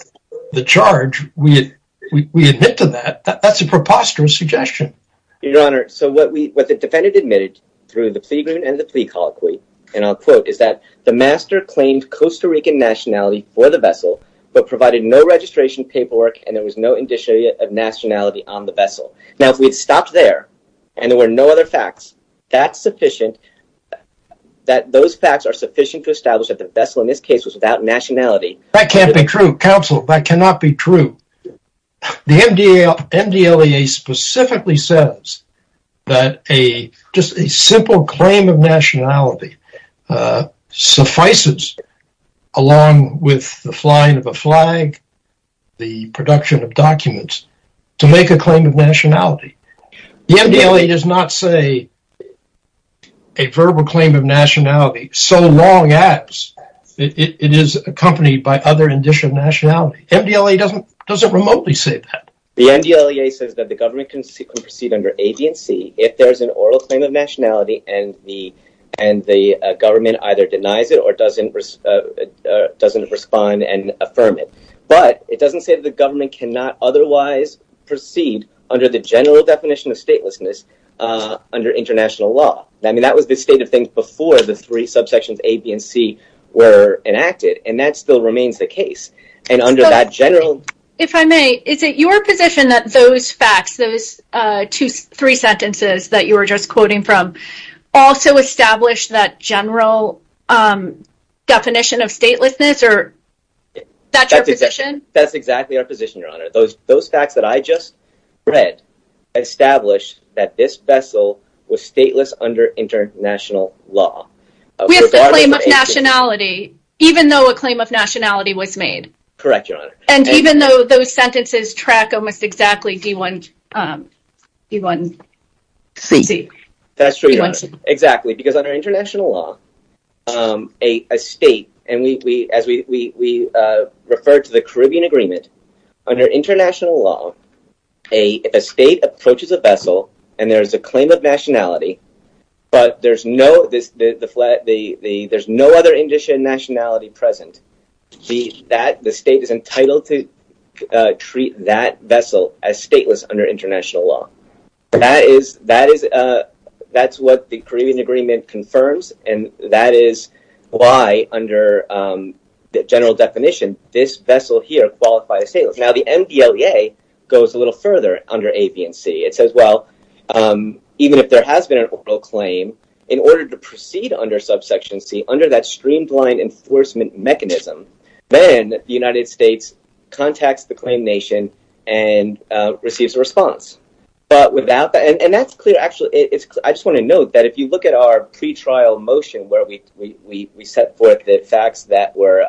the charge, we admit to that. That's a preposterous suggestion. Your Honor, so what the defendant admitted through the plea agreement and the plea colloquy, and I'll quote, is that the master claimed Costa Rican nationality for the vessel, but provided no registration paperwork and there was no indicia of nationality on the vessel. Now, if we'd stopped there and there were no other facts, that's sufficient, that those facts are sufficient to establish that the vessel in this case was without nationality. That can't be true, counsel. That cannot be true. The MDLEA specifically says that just a simple claim of nationality suffices, along with the flying of a flag, the production of documents, to make a claim of nationality. The MDLEA does not say a verbal claim of nationality so long as it is accompanied by other indicia of nationality. MDLEA doesn't remotely say that. The MDLEA says that the government can proceed under AB&C if there's an oral claim of nationality and the government either denies it or doesn't respond and affirm it. But it doesn't say that the government cannot otherwise proceed under the general definition of statelessness under international law. I mean, that was the state of things before the three subsections AB&C were enacted, and that still remains the case. And under that general... If I may, is it your position that those facts, those three sentences that you were just quoting from, also establish that general definition of statelessness, or that's your position? That's exactly our position, your honor. Those facts that I just read establish that this vessel was stateless under international law. We have a claim of nationality, even though a claim of nationality was made. Correct, your honor. And even though those sentences track almost exactly D1C. That's true, your honor. Exactly. Because under international law, a state, and as we referred to the Caribbean Agreement, under international law, a state approaches a vessel and there is a claim of nationality, but there's no other indicia nationality present. The state is entitled to treat that vessel as stateless under international law. That's what the Caribbean Agreement confirms, and that is why under the general definition, this vessel here qualifies as stateless. Now, the MDLEA goes a little further under A, B, and C. It says, well, even if there has been an oral claim, in order to proceed under subsection C, under that streamlined enforcement mechanism, then the United States contacts the claimed nation and receives a response. And that's clear, actually. I just want to note that if you look at our pre-trial motion where we set forth the facts that were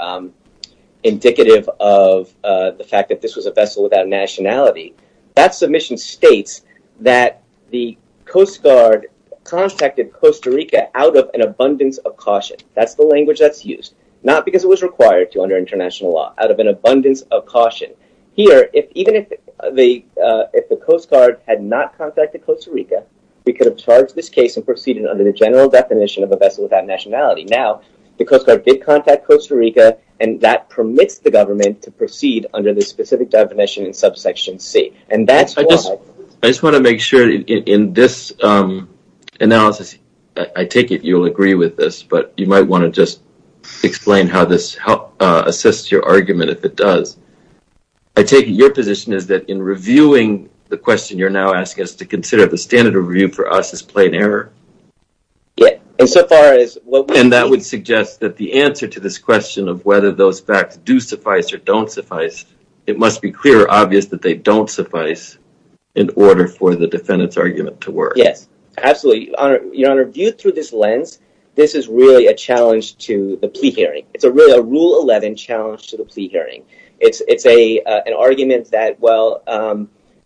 indicative of the fact that this was a vessel without nationality, that submission states that the Coast Guard contacted Costa Rica out of an abundance of caution. That's the language that's used. Not because it was required to under international law, out of an abundance of caution. Here, even if the Coast Guard had not contacted Costa Rica, we could have charged this case and proceeded under the general definition of a vessel without nationality. Now, the Coast Guard did contact Costa Rica, and that permits the government to proceed under this specific definition in subsection C. And that's why... I just want to make sure in this analysis, I take it you'll agree with this, but you might want to just explain how this assists your argument if it does. I take it your position is that in reviewing the question you're now asking us to consider, the standard of review for us is plain error? Yeah, and so far as what... And that would suggest that the answer to this question of whether those facts do suffice or don't suffice, it must be clear or obvious that they don't suffice in order for the defendant's argument to work. Yes, absolutely. Your Honor, viewed through this lens, this is really a challenge to the plea hearing. It's a rule 11 challenge to the plea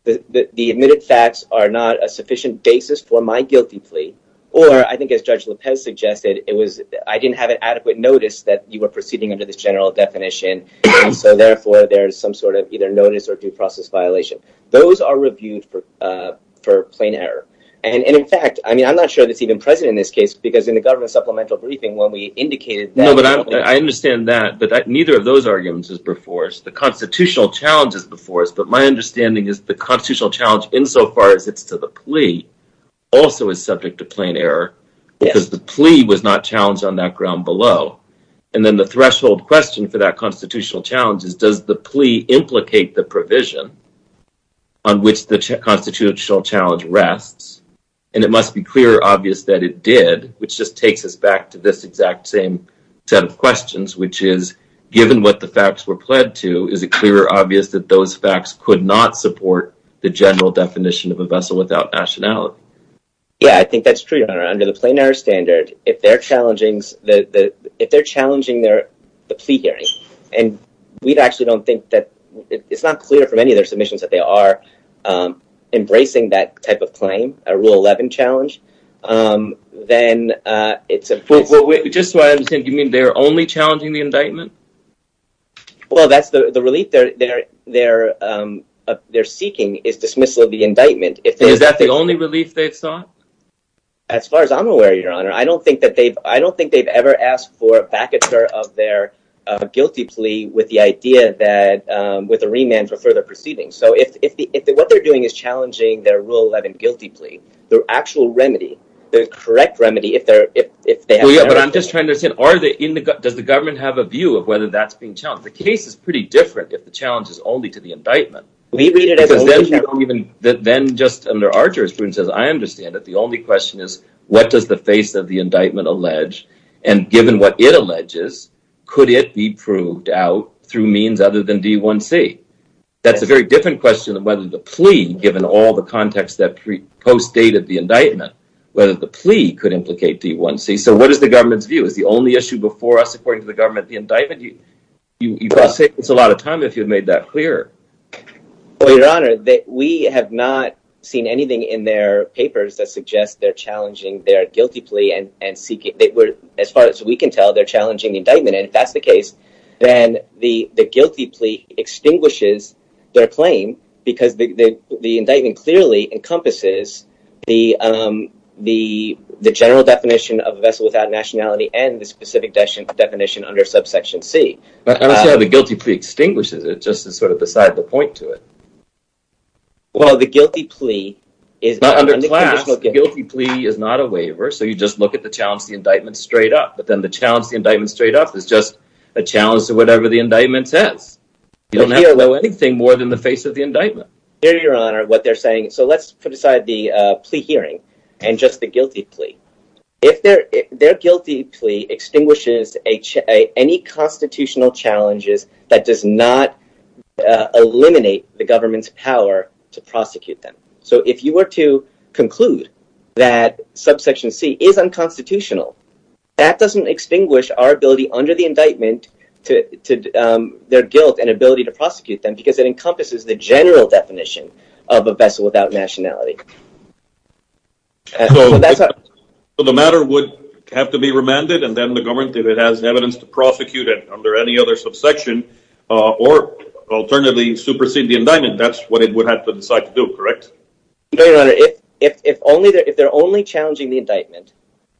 that the admitted facts are not a sufficient basis for my guilty plea. Or I think as Judge Lopez suggested, it was... I didn't have an adequate notice that you were proceeding under this general definition, and so therefore there's some sort of either notice or due process violation. Those are reviewed for plain error. And in fact, I mean, I'm not sure that's even present in this case because in the government supplemental briefing when we indicated that... No, but I understand that, but neither of those arguments is before us. The constitutional challenge is before us, but my understanding is the constitutional challenge insofar as it's to the plea also is subject to plain error because the plea was not challenged on that ground below. And then the threshold question for that constitutional challenge is, does the plea implicate the provision on which the constitutional challenge rests? And it must be clear or obvious that it did, which just takes us back to this exact same set of questions, which is given what the facts were pled to, is it clear or obvious that those facts could not support the general definition of a vessel without nationality? Yeah, I think that's true, Your Honor. Under the plain error standard, if they're challenging the plea hearing, and we actually don't think that... It's not clear from any of their submissions that they are embracing that type of claim, a Rule 11 challenge, then it's a... Well, just so I understand, you mean they're only challenging the indictment? Well, that's the relief they're seeking, is dismissal of the indictment. Is that the only relief they've sought? As far as I'm aware, Your Honor, I don't think they've ever asked for a vacatur of their guilty plea with the idea that... With a remand for further proceeding. So, what they're doing is challenging their Rule 11 guilty plea. The actual remedy, the correct remedy, if they're... Well, yeah, but I'm just trying to understand, are they... Does the government have a view of whether that's being challenged? The case is pretty different if the challenge is only to the indictment. We read it as... Then, just under our jurisprudence, as I understand it, the only question is, what does the face of the indictment allege? And given what it alleges, could it be proved out through means other than D1C? That's a very different question of whether the plea, given all the context that pre-post dated the indictment, whether the plea could implicate D1C. So, what is the government's view? Is the only issue before us, according to the government, the indictment? You could have saved us a lot of time if you had made that clearer. Well, Your Honor, we have not seen anything in their papers that suggests they're challenging their guilty plea and seeking... As far as we can tell, they're challenging the indictment. And if then the guilty plea extinguishes their claim because the indictment clearly encompasses the general definition of a vessel without nationality and the specific definition under subsection C. I don't see how the guilty plea extinguishes it. It's just sort of beside the point to it. Well, the guilty plea is... Not under class. The guilty plea is not a waiver. So, you just look at the challenge of the indictment straight up. But then the challenge of the indictment is a challenge to whatever the indictment says. You don't have to know anything more than the face of the indictment. Hear, Your Honor, what they're saying. So, let's put aside the plea hearing and just the guilty plea. Their guilty plea extinguishes any constitutional challenges that does not eliminate the government's power to prosecute them. So, if you were to conclude that subsection C is unconstitutional, that doesn't extinguish our ability under the indictment to their guilt and ability to prosecute them because it encompasses the general definition of a vessel without nationality. So, the matter would have to be remanded and then the government, if it has evidence, to prosecute it under any other subsection or alternatively supersede the indictment. That's what it would have to decide to do, correct? If they're only challenging the indictment,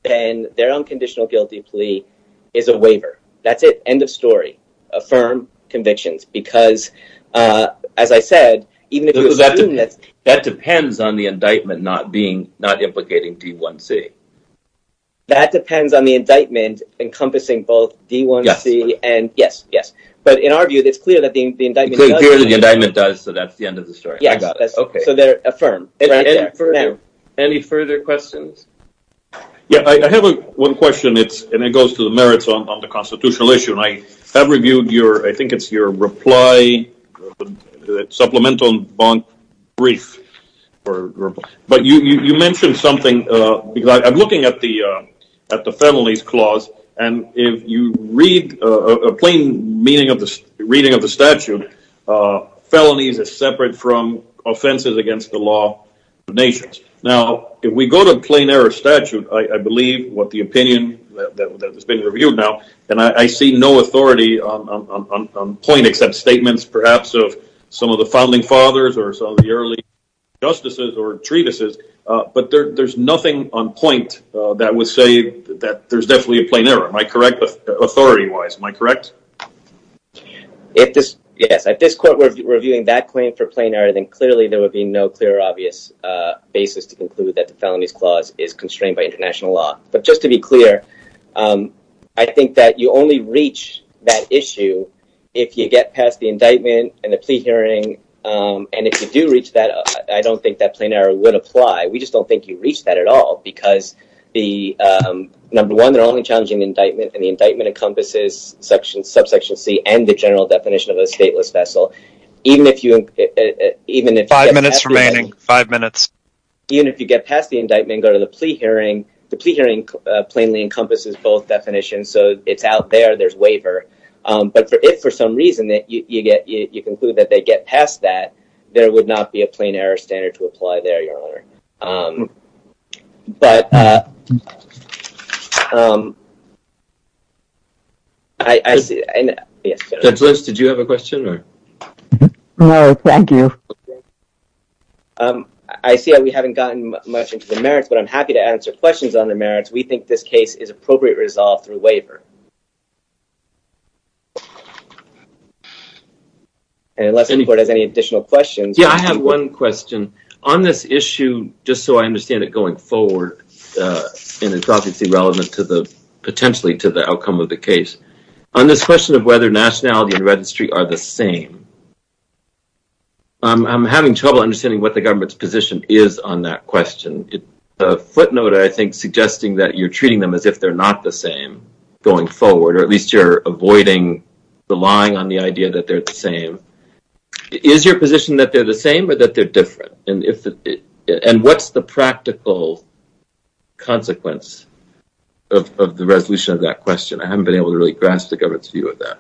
then their unconditional guilty plea is a waiver. That's it. End of story. Affirm convictions because, as I said... That depends on the indictment not implicating D1C. That depends on the indictment encompassing both D1C and... Yes, yes. But in our view, it's clear that the indictment... It's clear that the indictment does, so that's the end of the story. Yes, so they're affirmed. Any further questions? Yes, I have one question and it goes to the merits on the constitutional issue. I have reviewed your, I think it's your reply, supplemental bond brief, but you mentioned something because I'm looking at the felonies clause and if you read a plain reading of the nations. Now, if we go to plain error statute, I believe what the opinion that has been reviewed now and I see no authority on point except statements perhaps of some of the founding fathers or some of the early justices or treatises, but there's nothing on point that would say that there's definitely a plain error. Am I correct authority-wise? Am I correct? Yes, if this court were reviewing that claim for plain error, then clearly there would be no clear or obvious basis to conclude that the felonies clause is constrained by international law. But just to be clear, I think that you only reach that issue if you get past the indictment and the plea hearing and if you do reach that, I don't think that plain error would apply. We just don't think you reach that at all because number one, they're only challenging the indictment and the indictment encompasses subsection C and the general definition of a five minutes. Even if you get past the indictment and go to the plea hearing, the plea hearing plainly encompasses both definitions. So, it's out there, there's waiver. But if for some reason that you get, you conclude that they get past that, there would not be a plain error standard to apply there, your honor. But, Judge Lynch, did you have a question? No, thank you. I see that we haven't gotten much into the merits, but I'm happy to answer questions on the merits. We think this case is appropriate resolved through waiver. Unless any court has any additional questions. Yeah, I have one question. On this issue, just so I understand it going forward, and it's obviously relevant potentially to the outcome of the case. On this question of whether nationality and registry are the same, I'm having trouble understanding what the government's position is on that question. A footnote, I think, suggesting that you're treating them as if they're not the same going forward, or at least you're avoiding relying on the idea that they're the different. And what's the practical consequence of the resolution of that question? I haven't been able to really grasp the government's view of that.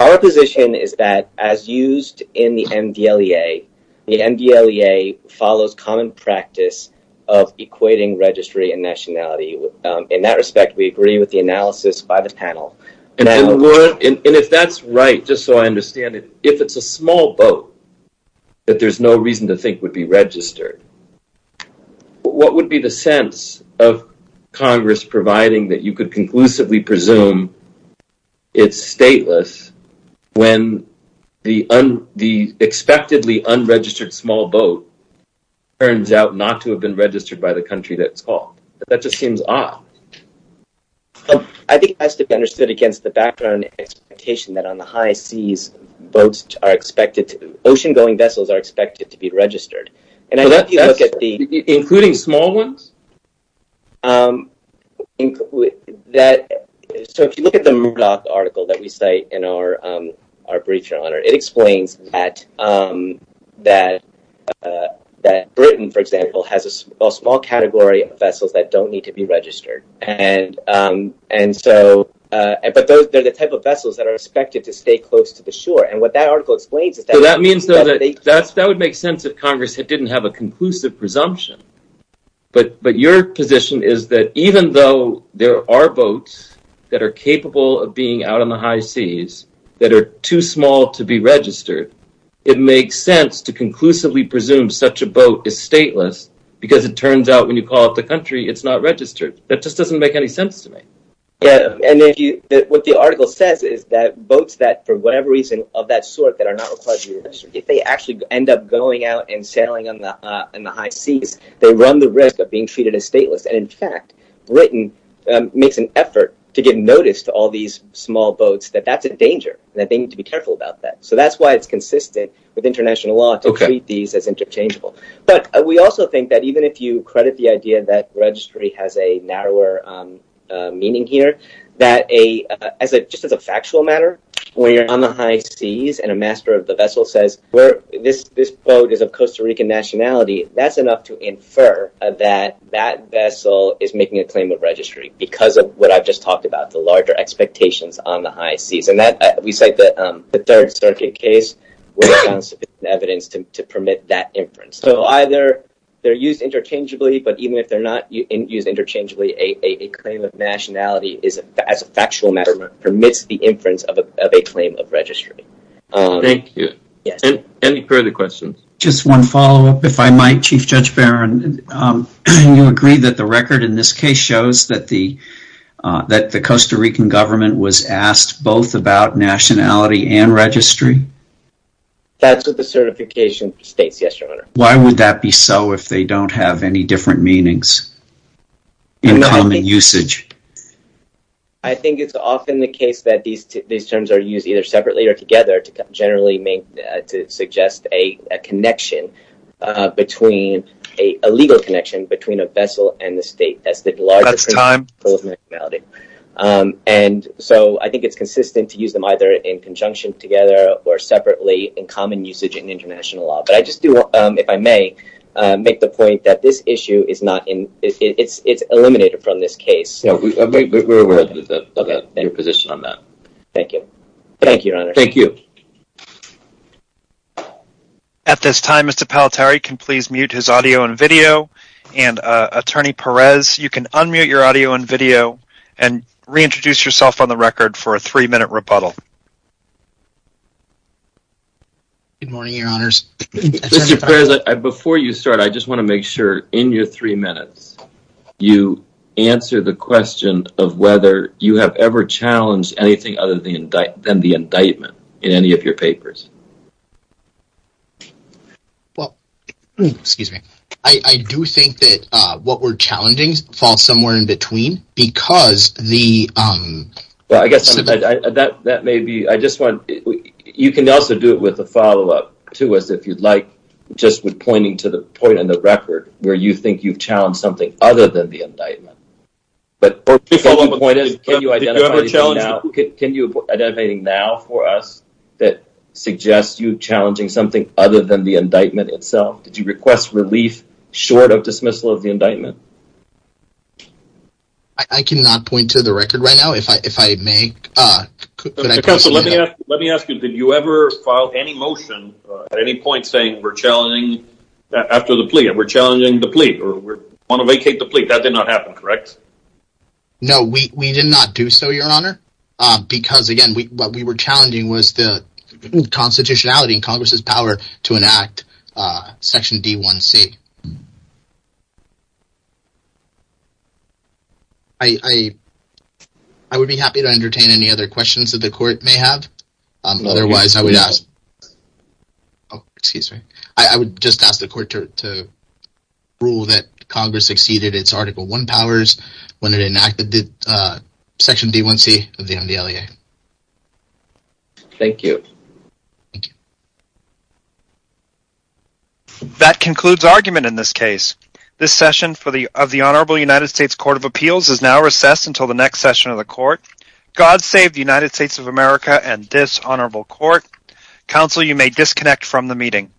Our position is that as used in the MDLEA, the MDLEA follows common practice of equating registry and nationality. In that respect, we agree with the analysis by the panel. And if that's right, just so I understand it, if it's a small boat that there's no reason to think would be registered, what would be the sense of Congress providing that you could conclusively presume it's stateless when the unexpectedly unregistered small boat turns out not to have been registered by the country that it's called? That just seems odd. I think it has to be understood against the background expectation that on the high seas, ocean-going vessels are expected to be registered. Including small ones? So if you look at the Murdoch article that we cite in our brief, Your Honor, it explains that Britain, for example, has a small category of vessels that don't need to be registered. But they're the type of vessels that are expected to stay close to the shore. So that would make sense if Congress didn't have a conclusive presumption. But your position is that even though there are boats that are capable of being out on the high seas that are too small to be registered, it makes sense to conclusively presume such a boat is stateless because it turns out when you call up the country, it's not registered. That just doesn't make any sense to me. What the article says is that boats that for whatever reason of that sort that are not required to be registered, if they actually end up going out and sailing in the high seas, they run the risk of being treated as stateless. And in fact, Britain makes an effort to give notice to all these small boats that that's a danger, that they need to be careful about that. So that's why it's consistent with international law to treat these as interchangeable. But we also think that even if you credit the idea that registry has a narrower meaning here, that just as a factual matter, when you're on the high seas and a master of the vessel says, this boat is of Costa Rican nationality, that's enough to infer that that vessel is making a claim of registry because of what I've just talked about, the larger expectations on the high seas. And we cite the Third Circuit case with evidence to permit that inference. So either they're used interchangeably, but even if they're not used interchangeably, a claim of nationality as a factual matter permits the inference of a claim of registry. Thank you. Any further questions? Just one follow up, if I might, Chief Judge Barron. You agree that the record in this case shows that the Costa Rican government was asked both about nationality and registry? That's what the certification states, yes, Your Honor. Why would that be so if they don't have any different meanings in common usage? I think it's often the case that these terms are used either separately or together to generally make, to suggest a connection between, a legal connection between a vessel and the state. That's time. And so I think it's consistent to use them either in conjunction together or separately in common usage in international law. But I just do, if I may, make the point that this issue is not in, it's eliminated from this case. We're open to your position on that. Thank you. Thank you, Your Honor. Thank you. At this time, Mr. Palatari, can please mute his audio and video. And Attorney Perez, you can unmute your audio and video and reintroduce yourself on the record for a three minute rebuttal. Good morning, Your Honors. Mr. Perez, before you start, I just want to make sure in your three minutes, you answer the question of whether you have ever challenged anything other than the indictment in any of your papers. Well, excuse me. I do think that what we're challenging falls somewhere in between because the... Well, I guess that may be, I just want, you can also do it with a follow-up to us if you'd like, just with pointing to the point in the record where you think you've challenged something other than the indictment. But can you point us, can you identify now, can you identify now for us that suggest you challenging something other than the indictment itself? Did you request relief short of dismissal of the indictment? I cannot point to the record right now, if I may. Let me ask you, did you ever file any motion at any point saying we're challenging after the plea, we're challenging the plea or want to vacate the plea? That did not happen, correct? No, we did not do so, Your Honor, because again, what we were challenging was the constitutionality and Congress's power to enact Section D1C. I would be happy to entertain any other questions that the Court may have. Otherwise, I would ask... Oh, excuse me. I would just ask the Court to rule that Congress exceeded its Article 1 powers when it enacted Section D1C of the NDLEA. Thank you. That concludes argument in this case. This session of the Honorable United States Court of Appeals is now recessed until the next session of the Court. God save the United States of America and this Honorable Court. Counsel, you may disconnect from the meeting.